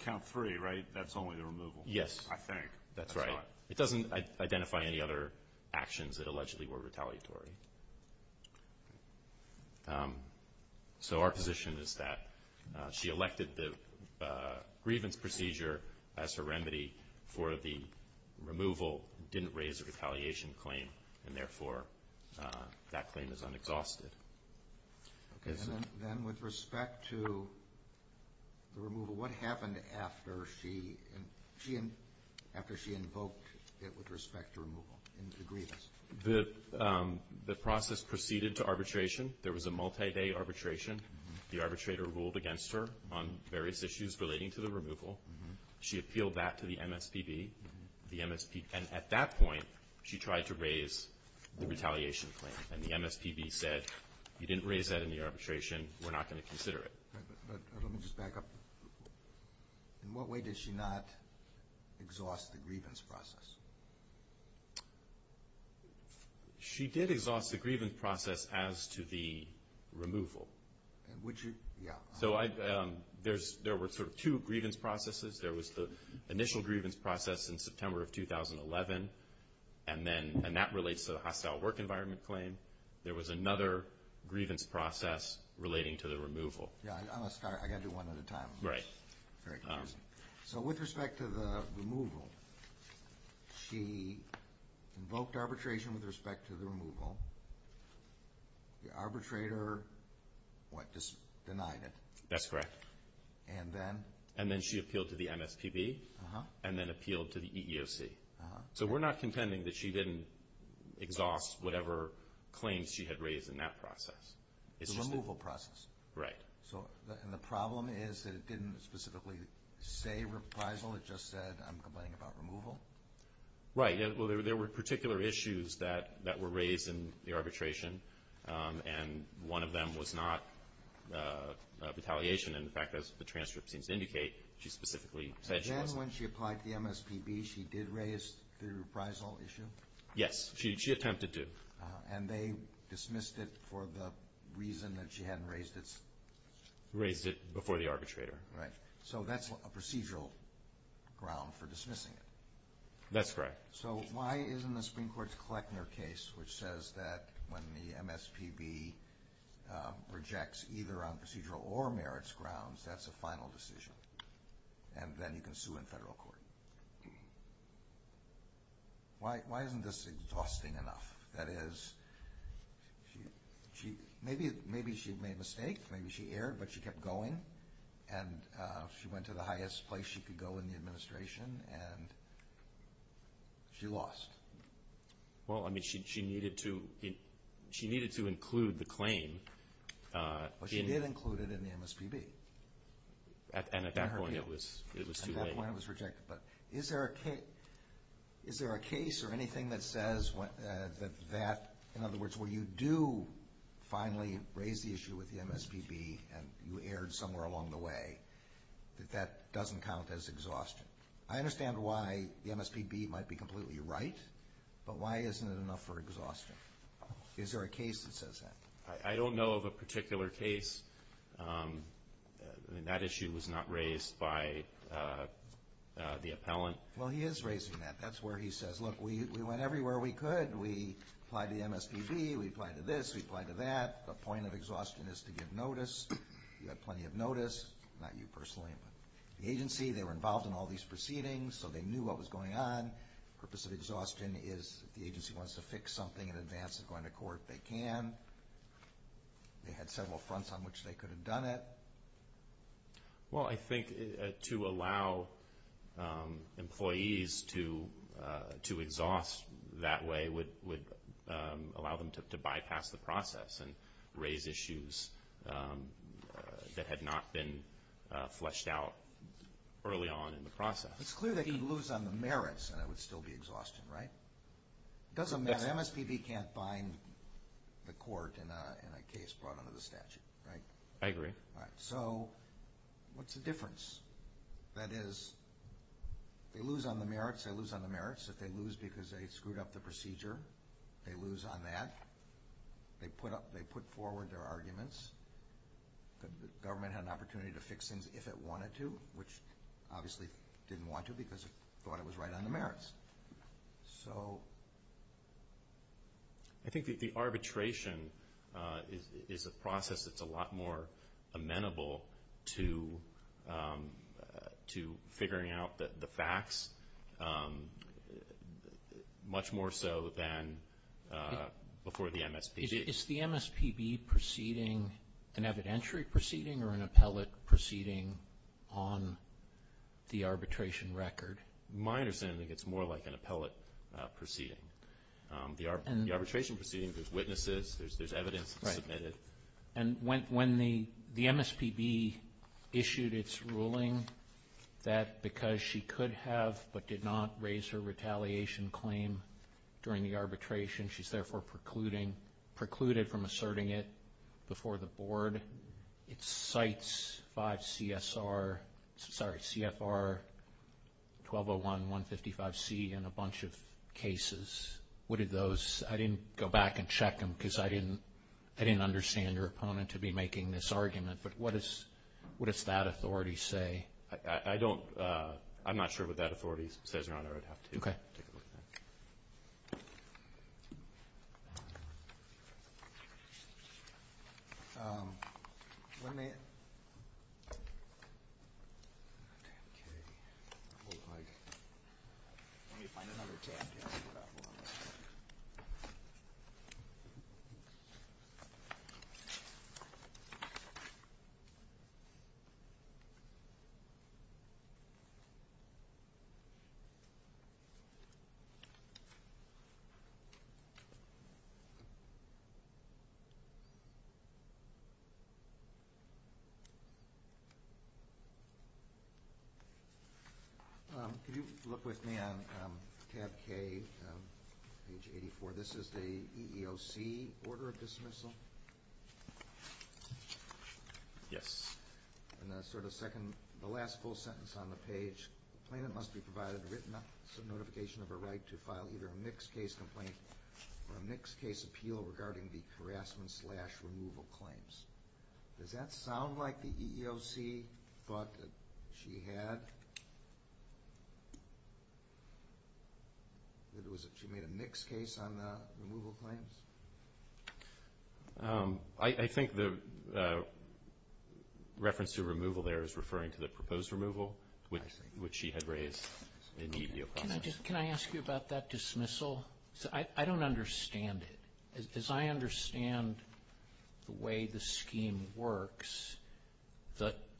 count free, right? That's only the removal? Yes. I think. That's right. It doesn't identify any other actions that allegedly were retaliatory. So our position is that she elected the grievance procedure as her remedy for the removal, didn't raise a retaliation claim, and therefore that claim is unexhausted. Then with respect to the removal, what happened after she invoked it with respect to removal? The process proceeded to arbitration. There was a multi-day arbitration. The arbitrator ruled against her on various issues relating to the removal. She appealed that to the MSPB. And at that point, she tried to raise the retaliation claim. And the MSPB said, you didn't raise that in the arbitration. We're not going to consider it. Let me just back up. In what way did she not exhaust the grievance process? She did exhaust the grievance process as to the removal. Would she? Yeah. So there were sort of two grievance processes. There was the initial grievance process in September of 2011, and that relates to the hostile work environment claim. There was another grievance process relating to the removal. Yeah, I got to do one at a time. Right. So with respect to the removal, she invoked arbitration with respect to the removal. The arbitrator, what, denied it? That's correct. And then? And then she appealed to the MSPB and then appealed to the EEOC. So we're not contending that she didn't exhaust whatever claims she had raised in that process. It's a removal process. Right. And the problem is that it didn't specifically say reprisal. It just said, I'm complaining about removal. Right. Well, there were particular issues that were raised in the arbitration, and one of them was not retaliation. In fact, as the transcript seems to indicate, she specifically said she was. And then when she applied to the MSPB, she did raise the reprisal issue? Yes, she attempted to. And they dismissed it for the reason that she hadn't raised it? Raised it before the arbitrator. Right. So that's a procedural ground for dismissing it. That's correct. So why isn't the Supreme Court's Kleckner case, which says that when the MSPB rejects either on procedural or merits grounds, that's a final decision? And then you can sue in federal court. Why isn't this exhausting enough? That is, maybe she made a mistake, maybe she erred, but she kept going, and she went to the highest place she could go in the administration, and she lost. Well, I mean, she needed to include the claim. Well, she did include it in the MSPB. And at that point it was too late. At that point it was rejected. But is there a case or anything that says that, in other words, where you do finally raise the issue with the MSPB and you erred somewhere along the way, that that doesn't count as exhaustion? I understand why the MSPB might be completely right, but why isn't it enough for exhaustion? Is there a case that says that? I don't know of a particular case. That issue was not raised by the appellant. Well, he is raising that. That's where he says, look, we went everywhere we could. We applied to the MSPB, we applied to this, we applied to that. The point of exhaustion is to get notice. You got plenty of notice, not you personally. The agency, they were involved in all these proceedings, so they knew what was going on. The purpose of exhaustion is the agency wants to fix something in advance of going to court. They can. They had several fronts on which they could have done it. Well, I think to allow employees to exhaust that way would allow them to bypass the process and raise issues that had not been fleshed out early on in the process. It's clear that he'd lose on the merits, and that would still be exhaustion, right? It doesn't matter. The MSPB can't bind the court in a case brought under the statute, right? I agree. So, what's the difference? That is, they lose on the merits, they lose on the merits. If they lose because they screwed up the procedure, they lose on that. They put forward their arguments. The government had an opportunity to fix them if it wanted to, which obviously didn't want to because it thought it was right on the merits. So... I think the arbitration is a process that's a lot more amenable to figuring out the facts, much more so than before the MSPB. Is the proceeding an evidentiary proceeding or an appellate proceeding on the arbitration record? My understanding is it's more like an appellate proceeding. The arbitration proceedings, there's witnesses, there's evidence submitted. And when the MSPB issued its ruling that because she could have but did not raise her retaliation claim during the arbitration, she's therefore precluded from asserting it before the board, it cites CFR 1201, 155C, and a bunch of cases. What are those? I didn't go back and check them because I didn't understand your opponent to be making this argument. But what does that authority say? Okay. Thank you. If you look with me on tab K, page 84, this is the EEOC order of dismissal? Yes. In the last full sentence on the page, the plaintiff must be provided written notification of her right to file either a mixed case complaint or a mixed case appeal regarding the harassment slash removal claims. Does that sound like the EEOC thought that she had? She made a mixed case on the removal claim? I think the reference to removal there is referring to the proposed removal, which she had raised in the EEOC. Can I ask you about that dismissal? I don't understand it. As I understand the way the scheme works,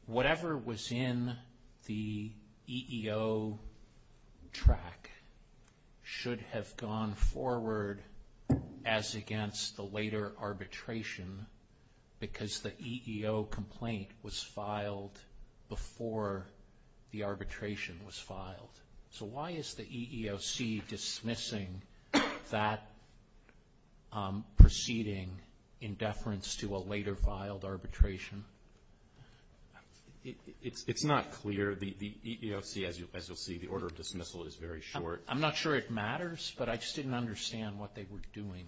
whatever was in the EEO track should have gone forward as against the later arbitration because the EEO complaint was filed before the arbitration was filed. So why is the EEOC dismissing that proceeding in deference to a later filed arbitration? It's not clear. The EEOC, as you'll see, the order of dismissal is very short. I'm not sure it matters, but I just didn't understand what they were doing.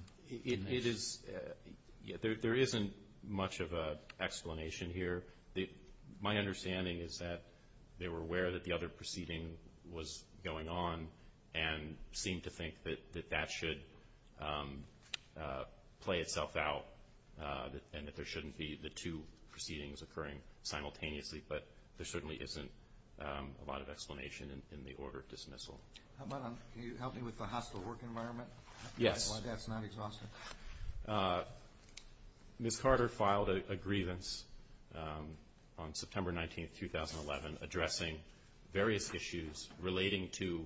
There isn't much of an explanation here. My understanding is that they were aware that the other proceeding was going on and seemed to think that that should play itself out and that there shouldn't be the two proceedings occurring simultaneously, but there certainly isn't a lot of explanation in the order of dismissal. Are you helping with the hospital work environment? Yes. Go ahead. Ms. Carter filed a grievance on September 19, 2011, addressing various issues relating to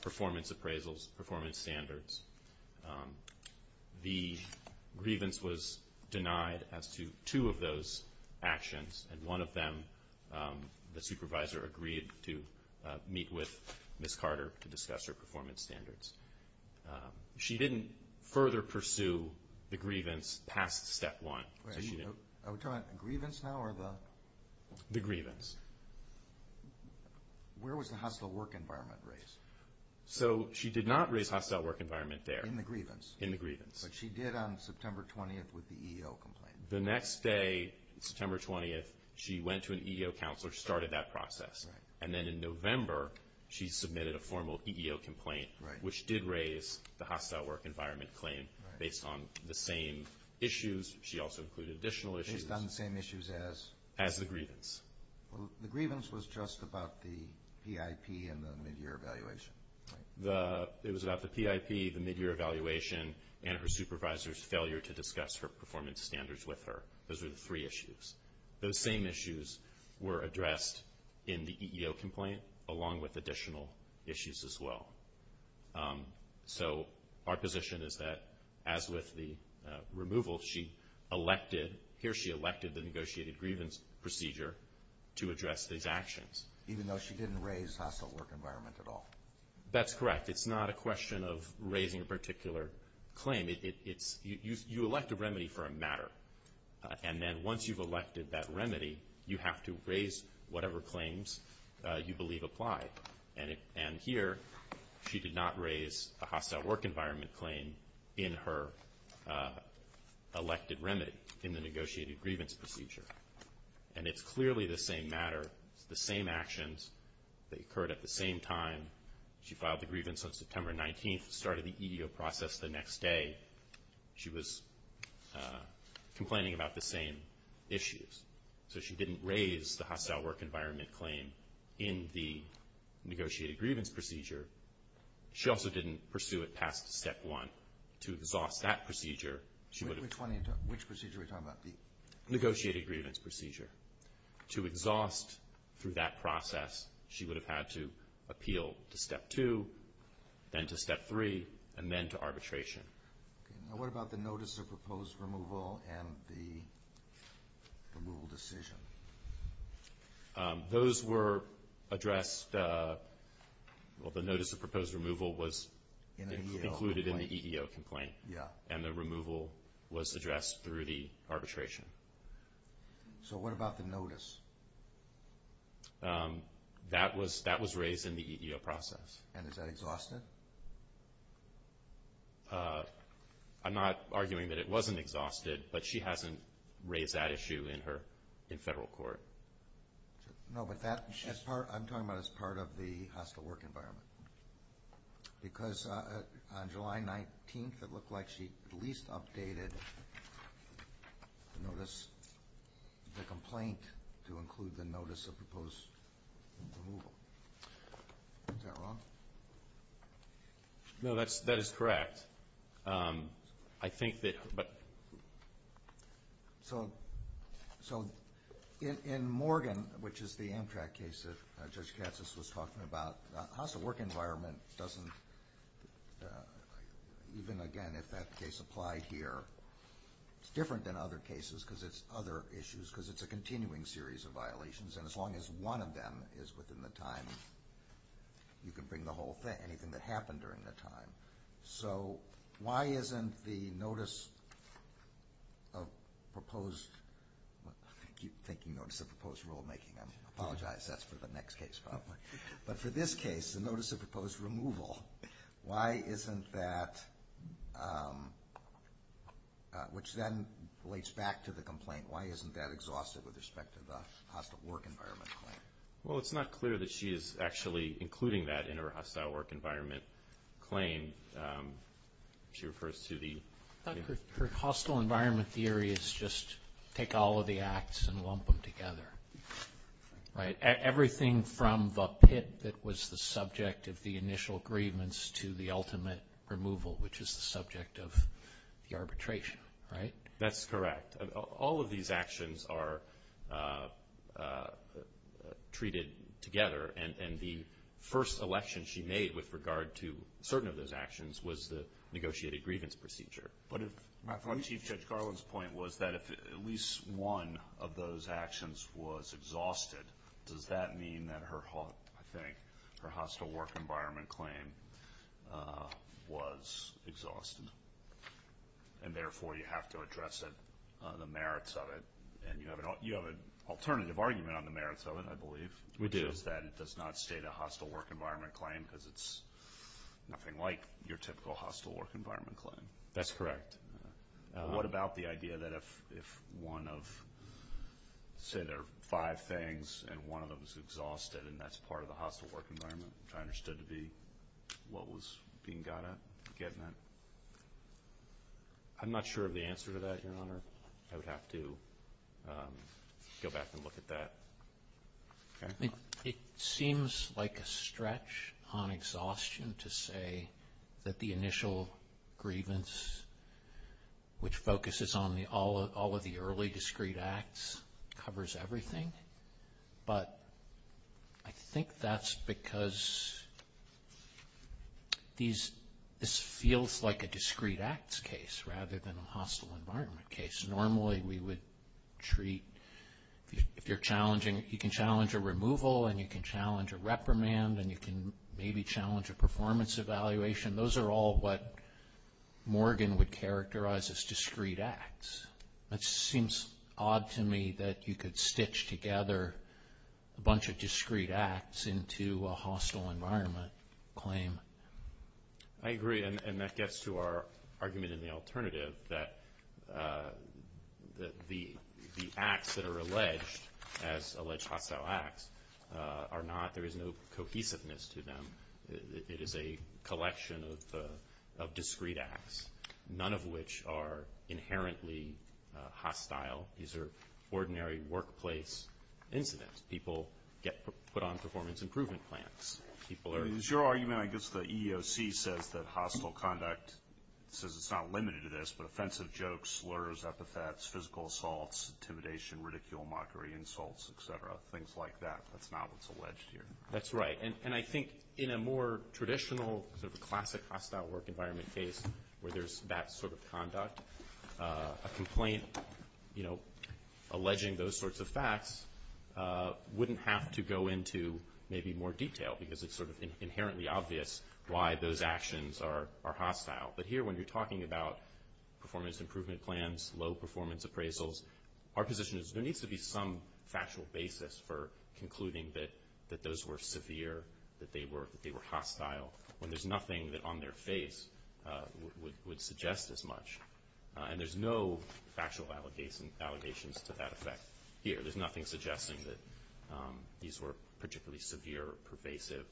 performance appraisals, performance standards. The grievance was denied as to two of those actions, and one of them the supervisor agreed to meet with Ms. Carter to discuss her performance standards. She didn't further pursue the grievance past step one. Are we talking about the grievance now or the... The grievance. Where was the hospital work environment raised? She did not raise the hospital work environment there. In the grievance? In the grievance. But she did on September 20 with the EEO complaint. The next day, September 20, she went to an EEO counselor and started that process, and then in November, she submitted a formal EEO complaint, which did raise the hospital work environment claim based on the same issues. She also included additional issues. Based on the same issues as? As the grievance. The grievance was just about the PIP and the midyear evaluation. It was about the PIP, the midyear evaluation, and her supervisor's failure to discuss her performance standards with her. Those were the three issues. Those same issues were addressed in the EEO complaint along with additional issues as well. So our position is that, as with the removal, she elected, here she elected the negotiated grievance procedure to address these actions. Even though she didn't raise hospital work environment at all? That's correct. It's not a question of raising a particular claim. You elect a remedy for a matter, and then once you've elected that remedy, you have to raise whatever claims you believe apply. And here, she did not raise a hospital work environment claim in her elected remedy, in the negotiated grievance procedure. And it's clearly the same matter, the same actions that occurred at the same time. She filed the grievance on September 19, started the EEO process the next day. She was complaining about the same issues. So she didn't raise the hospital work environment claim in the negotiated grievance procedure. She also didn't pursue it past step one. To exhaust that procedure, she would have... Which procedure are you talking about? Negotiated grievance procedure. To exhaust through that process, she would have had to appeal to step two, then to step three, and then to arbitration. What about the notice of proposed removal and the removal decision? Those were addressed... Well, the notice of proposed removal was included in the EEO complaint, and the removal was addressed through the arbitration. So what about the notice? That was raised in the EEO process. And is that exhausted? I'm not arguing that it wasn't exhausted, but she hasn't raised that issue in federal court. No, but I'm talking about as part of the hospital work environment. Because on July 19, it looked like she at least updated the notice, the complaint to include the notice of proposed removal. Is that wrong? No, that is correct. I think that... So in Morgan, which is the Amtrak case that Judge Katzus was talking about, the hospital work environment doesn't, even again if that case applies here, it's different than other cases because it's other issues, because it's a continuing series of violations. And as long as one of them is within the time, you can bring the whole thing, anything that happened during that time. So why isn't the notice of proposed... I keep thinking notice of proposed rulemaking. I apologize. That's for the next case, probably. But for this case, the notice of proposed removal, why isn't that, which then relates back to the complaint, why isn't that exhaustive with respect to the hospital work environment claim? Well, it's not clear that she is actually including that in her hospital work environment claim. She refers to the... Her hospital environment theory is just take all of the acts and lump them together, right? Everything from the pit that was the subject of the initial agreements to the ultimate removal, which is the subject of the arbitration, right? That's correct. All of these actions are treated together, and the first selection she made with regard to certain of those actions was the negotiated grievance procedure. Chief Judge Garland's point was that if at least one of those actions was exhausted, does that mean that her hospital work environment claim was exhausted? And therefore, you have to address the merits of it, and you have an alternative argument on the merits of it, I believe. We do. It's that it does not state a hospital work environment claim because it's nothing like your typical hospital work environment claim. That's correct. What about the idea that if one of, say there are five things, and one of them is exhausted and that's part of the hospital work environment, which I understood to be what was being gotten at, I'm not sure of the answer to that, Your Honor. I would have to go back and look at that. It seems like a stretch on exhaustion to say that the initial grievance, which focuses on all of the early discreet acts, covers everything, but I think that's because this feels like a discreet acts case rather than a hospital environment case. Normally we would treat, if you're challenging, you can challenge a removal, and you can challenge a reprimand, and you can maybe challenge a performance evaluation. Those are all what Morgan would characterize as discreet acts. It seems odd to me that you could stitch together a bunch of discreet acts into a hospital environment claim. I agree, and that gets to our argument in the alternative, that the acts that are alleged as alleged hostile acts are not. There is no cohesiveness to them. It is a collection of discreet acts, none of which are inherently hostile. These are ordinary workplace incidents. People get put on performance improvement plans. Is your argument, I guess the EEOC says that hostile conduct says it's not limited to this, but offensive jokes, slurs, epithets, physical assaults, intimidation, ridicule, mockery, insults, et cetera, things like that. That's not what's alleged here. That's right, and I think in a more traditional, sort of classic hostile work environment case where there's that sort of conduct, a complaint alleging those sorts of facts wouldn't have to go into maybe more detail because it's sort of inherently obvious why those actions are hostile. But here when you're talking about performance improvement plans, low performance appraisals, our position is there needs to be some factual basis for concluding that those were severe, that they were hostile, and there's nothing that on their face would suggest as much. And there's no factual validations to that effect here. There's nothing suggesting that these were particularly severe or pervasive.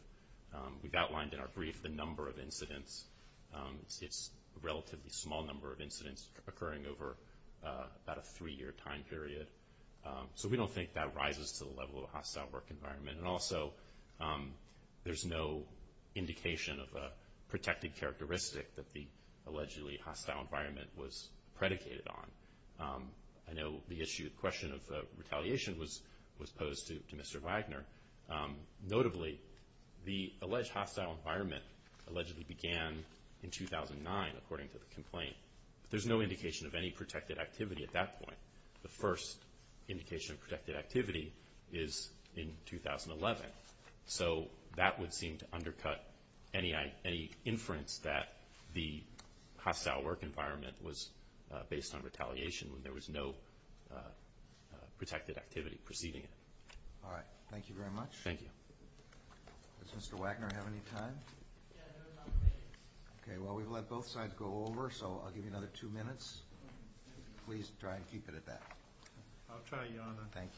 We've outlined in our brief the number of incidents. It's a relatively small number of incidents occurring over about a three-year time period. So we don't think that rises to the level of a hostile work environment. And also there's no indication of a protected characteristic that the allegedly hostile environment was predicated on. I know the issue of question of retaliation was posed to Mr. Wagner. Notably, the alleged hostile environment allegedly began in 2009, according to the complaint. There's no indication of any protected activity at that point. The first indication of protected activity is in 2011. So that would seem to undercut any inference that the hostile work environment was based on retaliation when there was no protected activity preceding it. All right. Thank you very much. Thank you. Does Mr. Wagner have any time? Okay. Well, we've let both sides go over, so I'll give you another two minutes. Please try and keep it at that. I'll try, Your Honor. Thank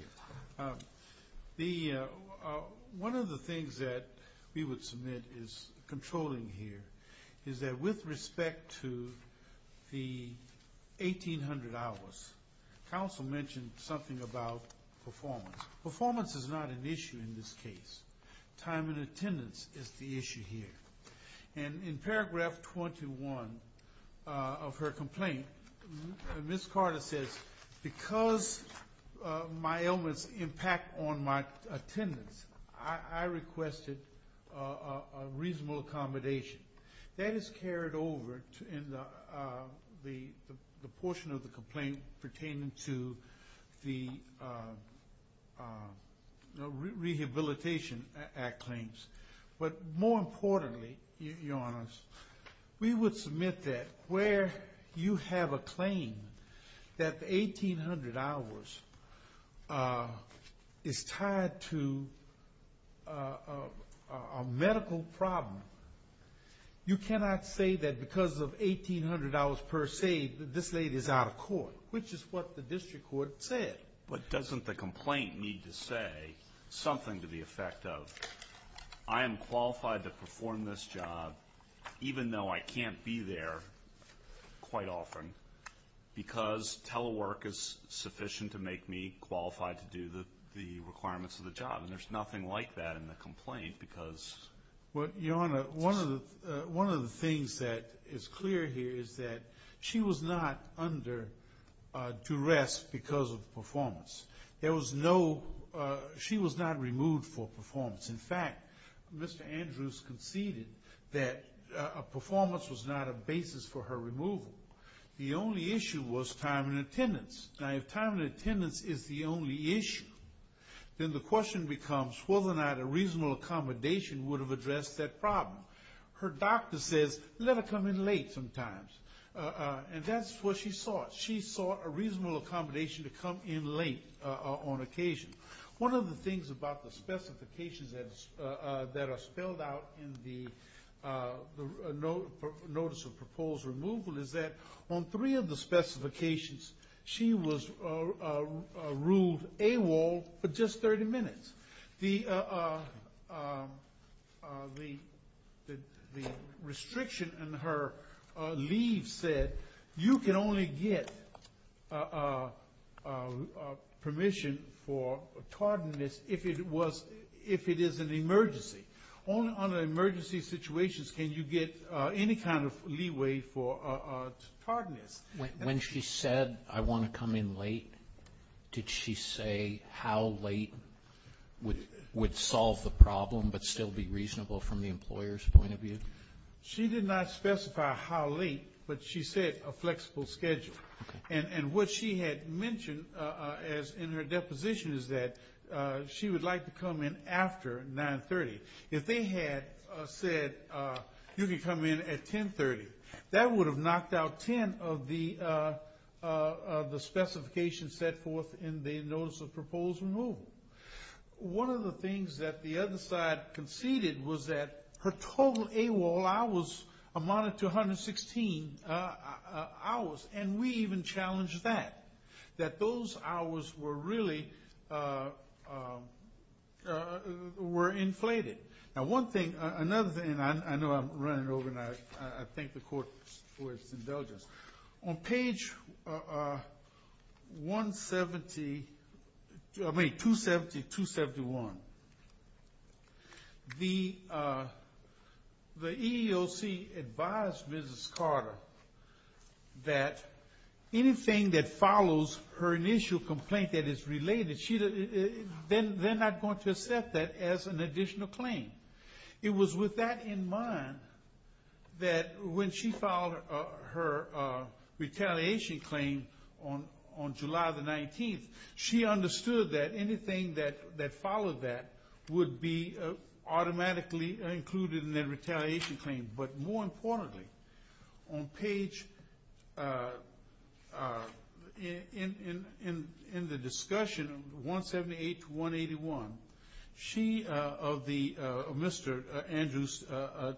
you. One of the things that we would submit is controlling here is that with respect to the 1800 hours, counsel mentioned something about performance. Performance is not an issue in this case. Time and attendance is the issue here. And in paragraph 21 of her complaint, Ms. Carter says, because my ailments impact on my attendance, I requested a reasonable accommodation. That is carried over in the portion of the complaint pertaining to the Rehabilitation Act claims. But more importantly, Your Honor, we would submit that where you have a claim that the 1800 hours is tied to a medical problem, you cannot say that because of 1800 hours per se that this lady is out of court, which is what the district court said. But doesn't the complaint need to say something to the effect of, I am qualified to perform this job, even though I can't be there quite often, because telework is sufficient to make me qualified to do the requirements of the job. And there's nothing like that in the complaint. Your Honor, one of the things that is clear here is that she was not under duress because of performance. She was not removed for performance. In fact, Mr. Andrews conceded that a performance was not a basis for her removal. Now, if time and attendance is the only issue, then the question becomes whether or not a reasonable accommodation would have addressed that problem. Her doctor says, let her come in late sometimes. And that's what she sought. She sought a reasonable accommodation to come in late on occasion. One of the things about the specifications that are spelled out in the Notice of Proposed Removal is that, on three of the specifications, she was ruled AWOL for just 30 minutes. The restriction in her leave said, you can only get permission for tardiness if it is an emergency. Only under emergency situations can you get any kind of leeway for tardiness. When she said, I want to come in late, did she say how late would solve the problem but still be reasonable from the employer's point of view? She did not specify how late, but she said a flexible schedule. And what she had mentioned in her deposition is that she would like to come in after 930. If they had said, you can come in at 1030, that would have knocked out 10 of the specifications set forth in the Notice of Proposed Removal. One of the things that the other side conceded was that her total AWOL hours amounted to 116 hours. And we even challenged that, that those hours were really inflated. Now one thing, another thing, and I know I'm running over and I thank the court for its indulgence. On page 270-271, the EEOC advised Mrs. Carter that anything that follows her initial complaint that is related, they're not going to accept that as an additional claim. It was with that in mind that when she filed her retaliation claim on July the 19th, she understood that anything that followed that would be automatically included in their retaliation claim. But more importantly, on page, in the discussion, 178-181, she, of the Mr. Andrews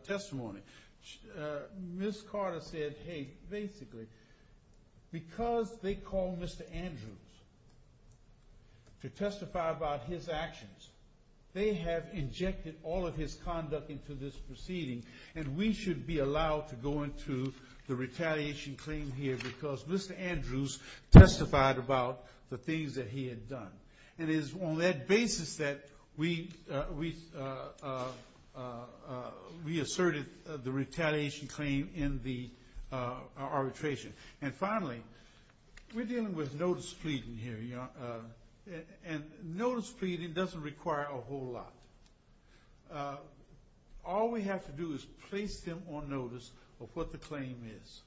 testimony, Mrs. Carter said, hey, basically, because they called Mr. Andrews to testify about his actions, they have injected all of his conduct into this proceeding and we should be allowed to go into the retaliation claim here because Mr. Andrews testified about the things that he had done. It is on that basis that we asserted the retaliation claim in the arbitration. And finally, we're dealing with notice pleading here, and notice pleading doesn't require a whole lot. All we have to do is place them on notice of what the claim is.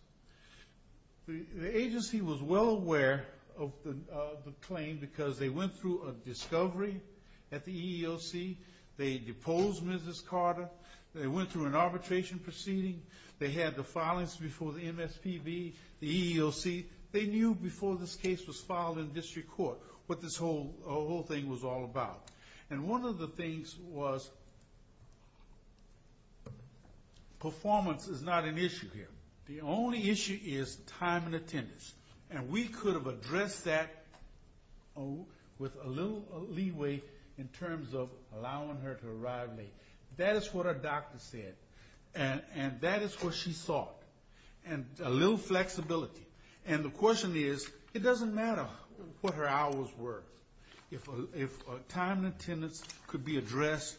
The agency was well aware of the claim because they went through a discovery at the EEOC. They deposed Mrs. Carter. They went through an arbitration proceeding. They had the filings before the MSPB, the EEOC. They knew before this case was filed in district court what this whole thing was all about. And one of the things was performance is not an issue here. The only issue is time and attendance. And we could have addressed that with a little leeway in terms of allowing her to arrive late. That is what our doctor said, and that is what she thought, and a little flexibility. And the question is, it doesn't matter what her hours were. If time and attendance could be addressed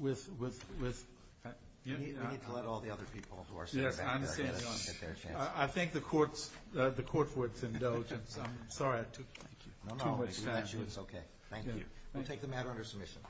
with... We need to let all the other people who are sitting back there. I think the court was indulgent. I'm sorry. It's okay. Thank you. We'll take the matter under submission.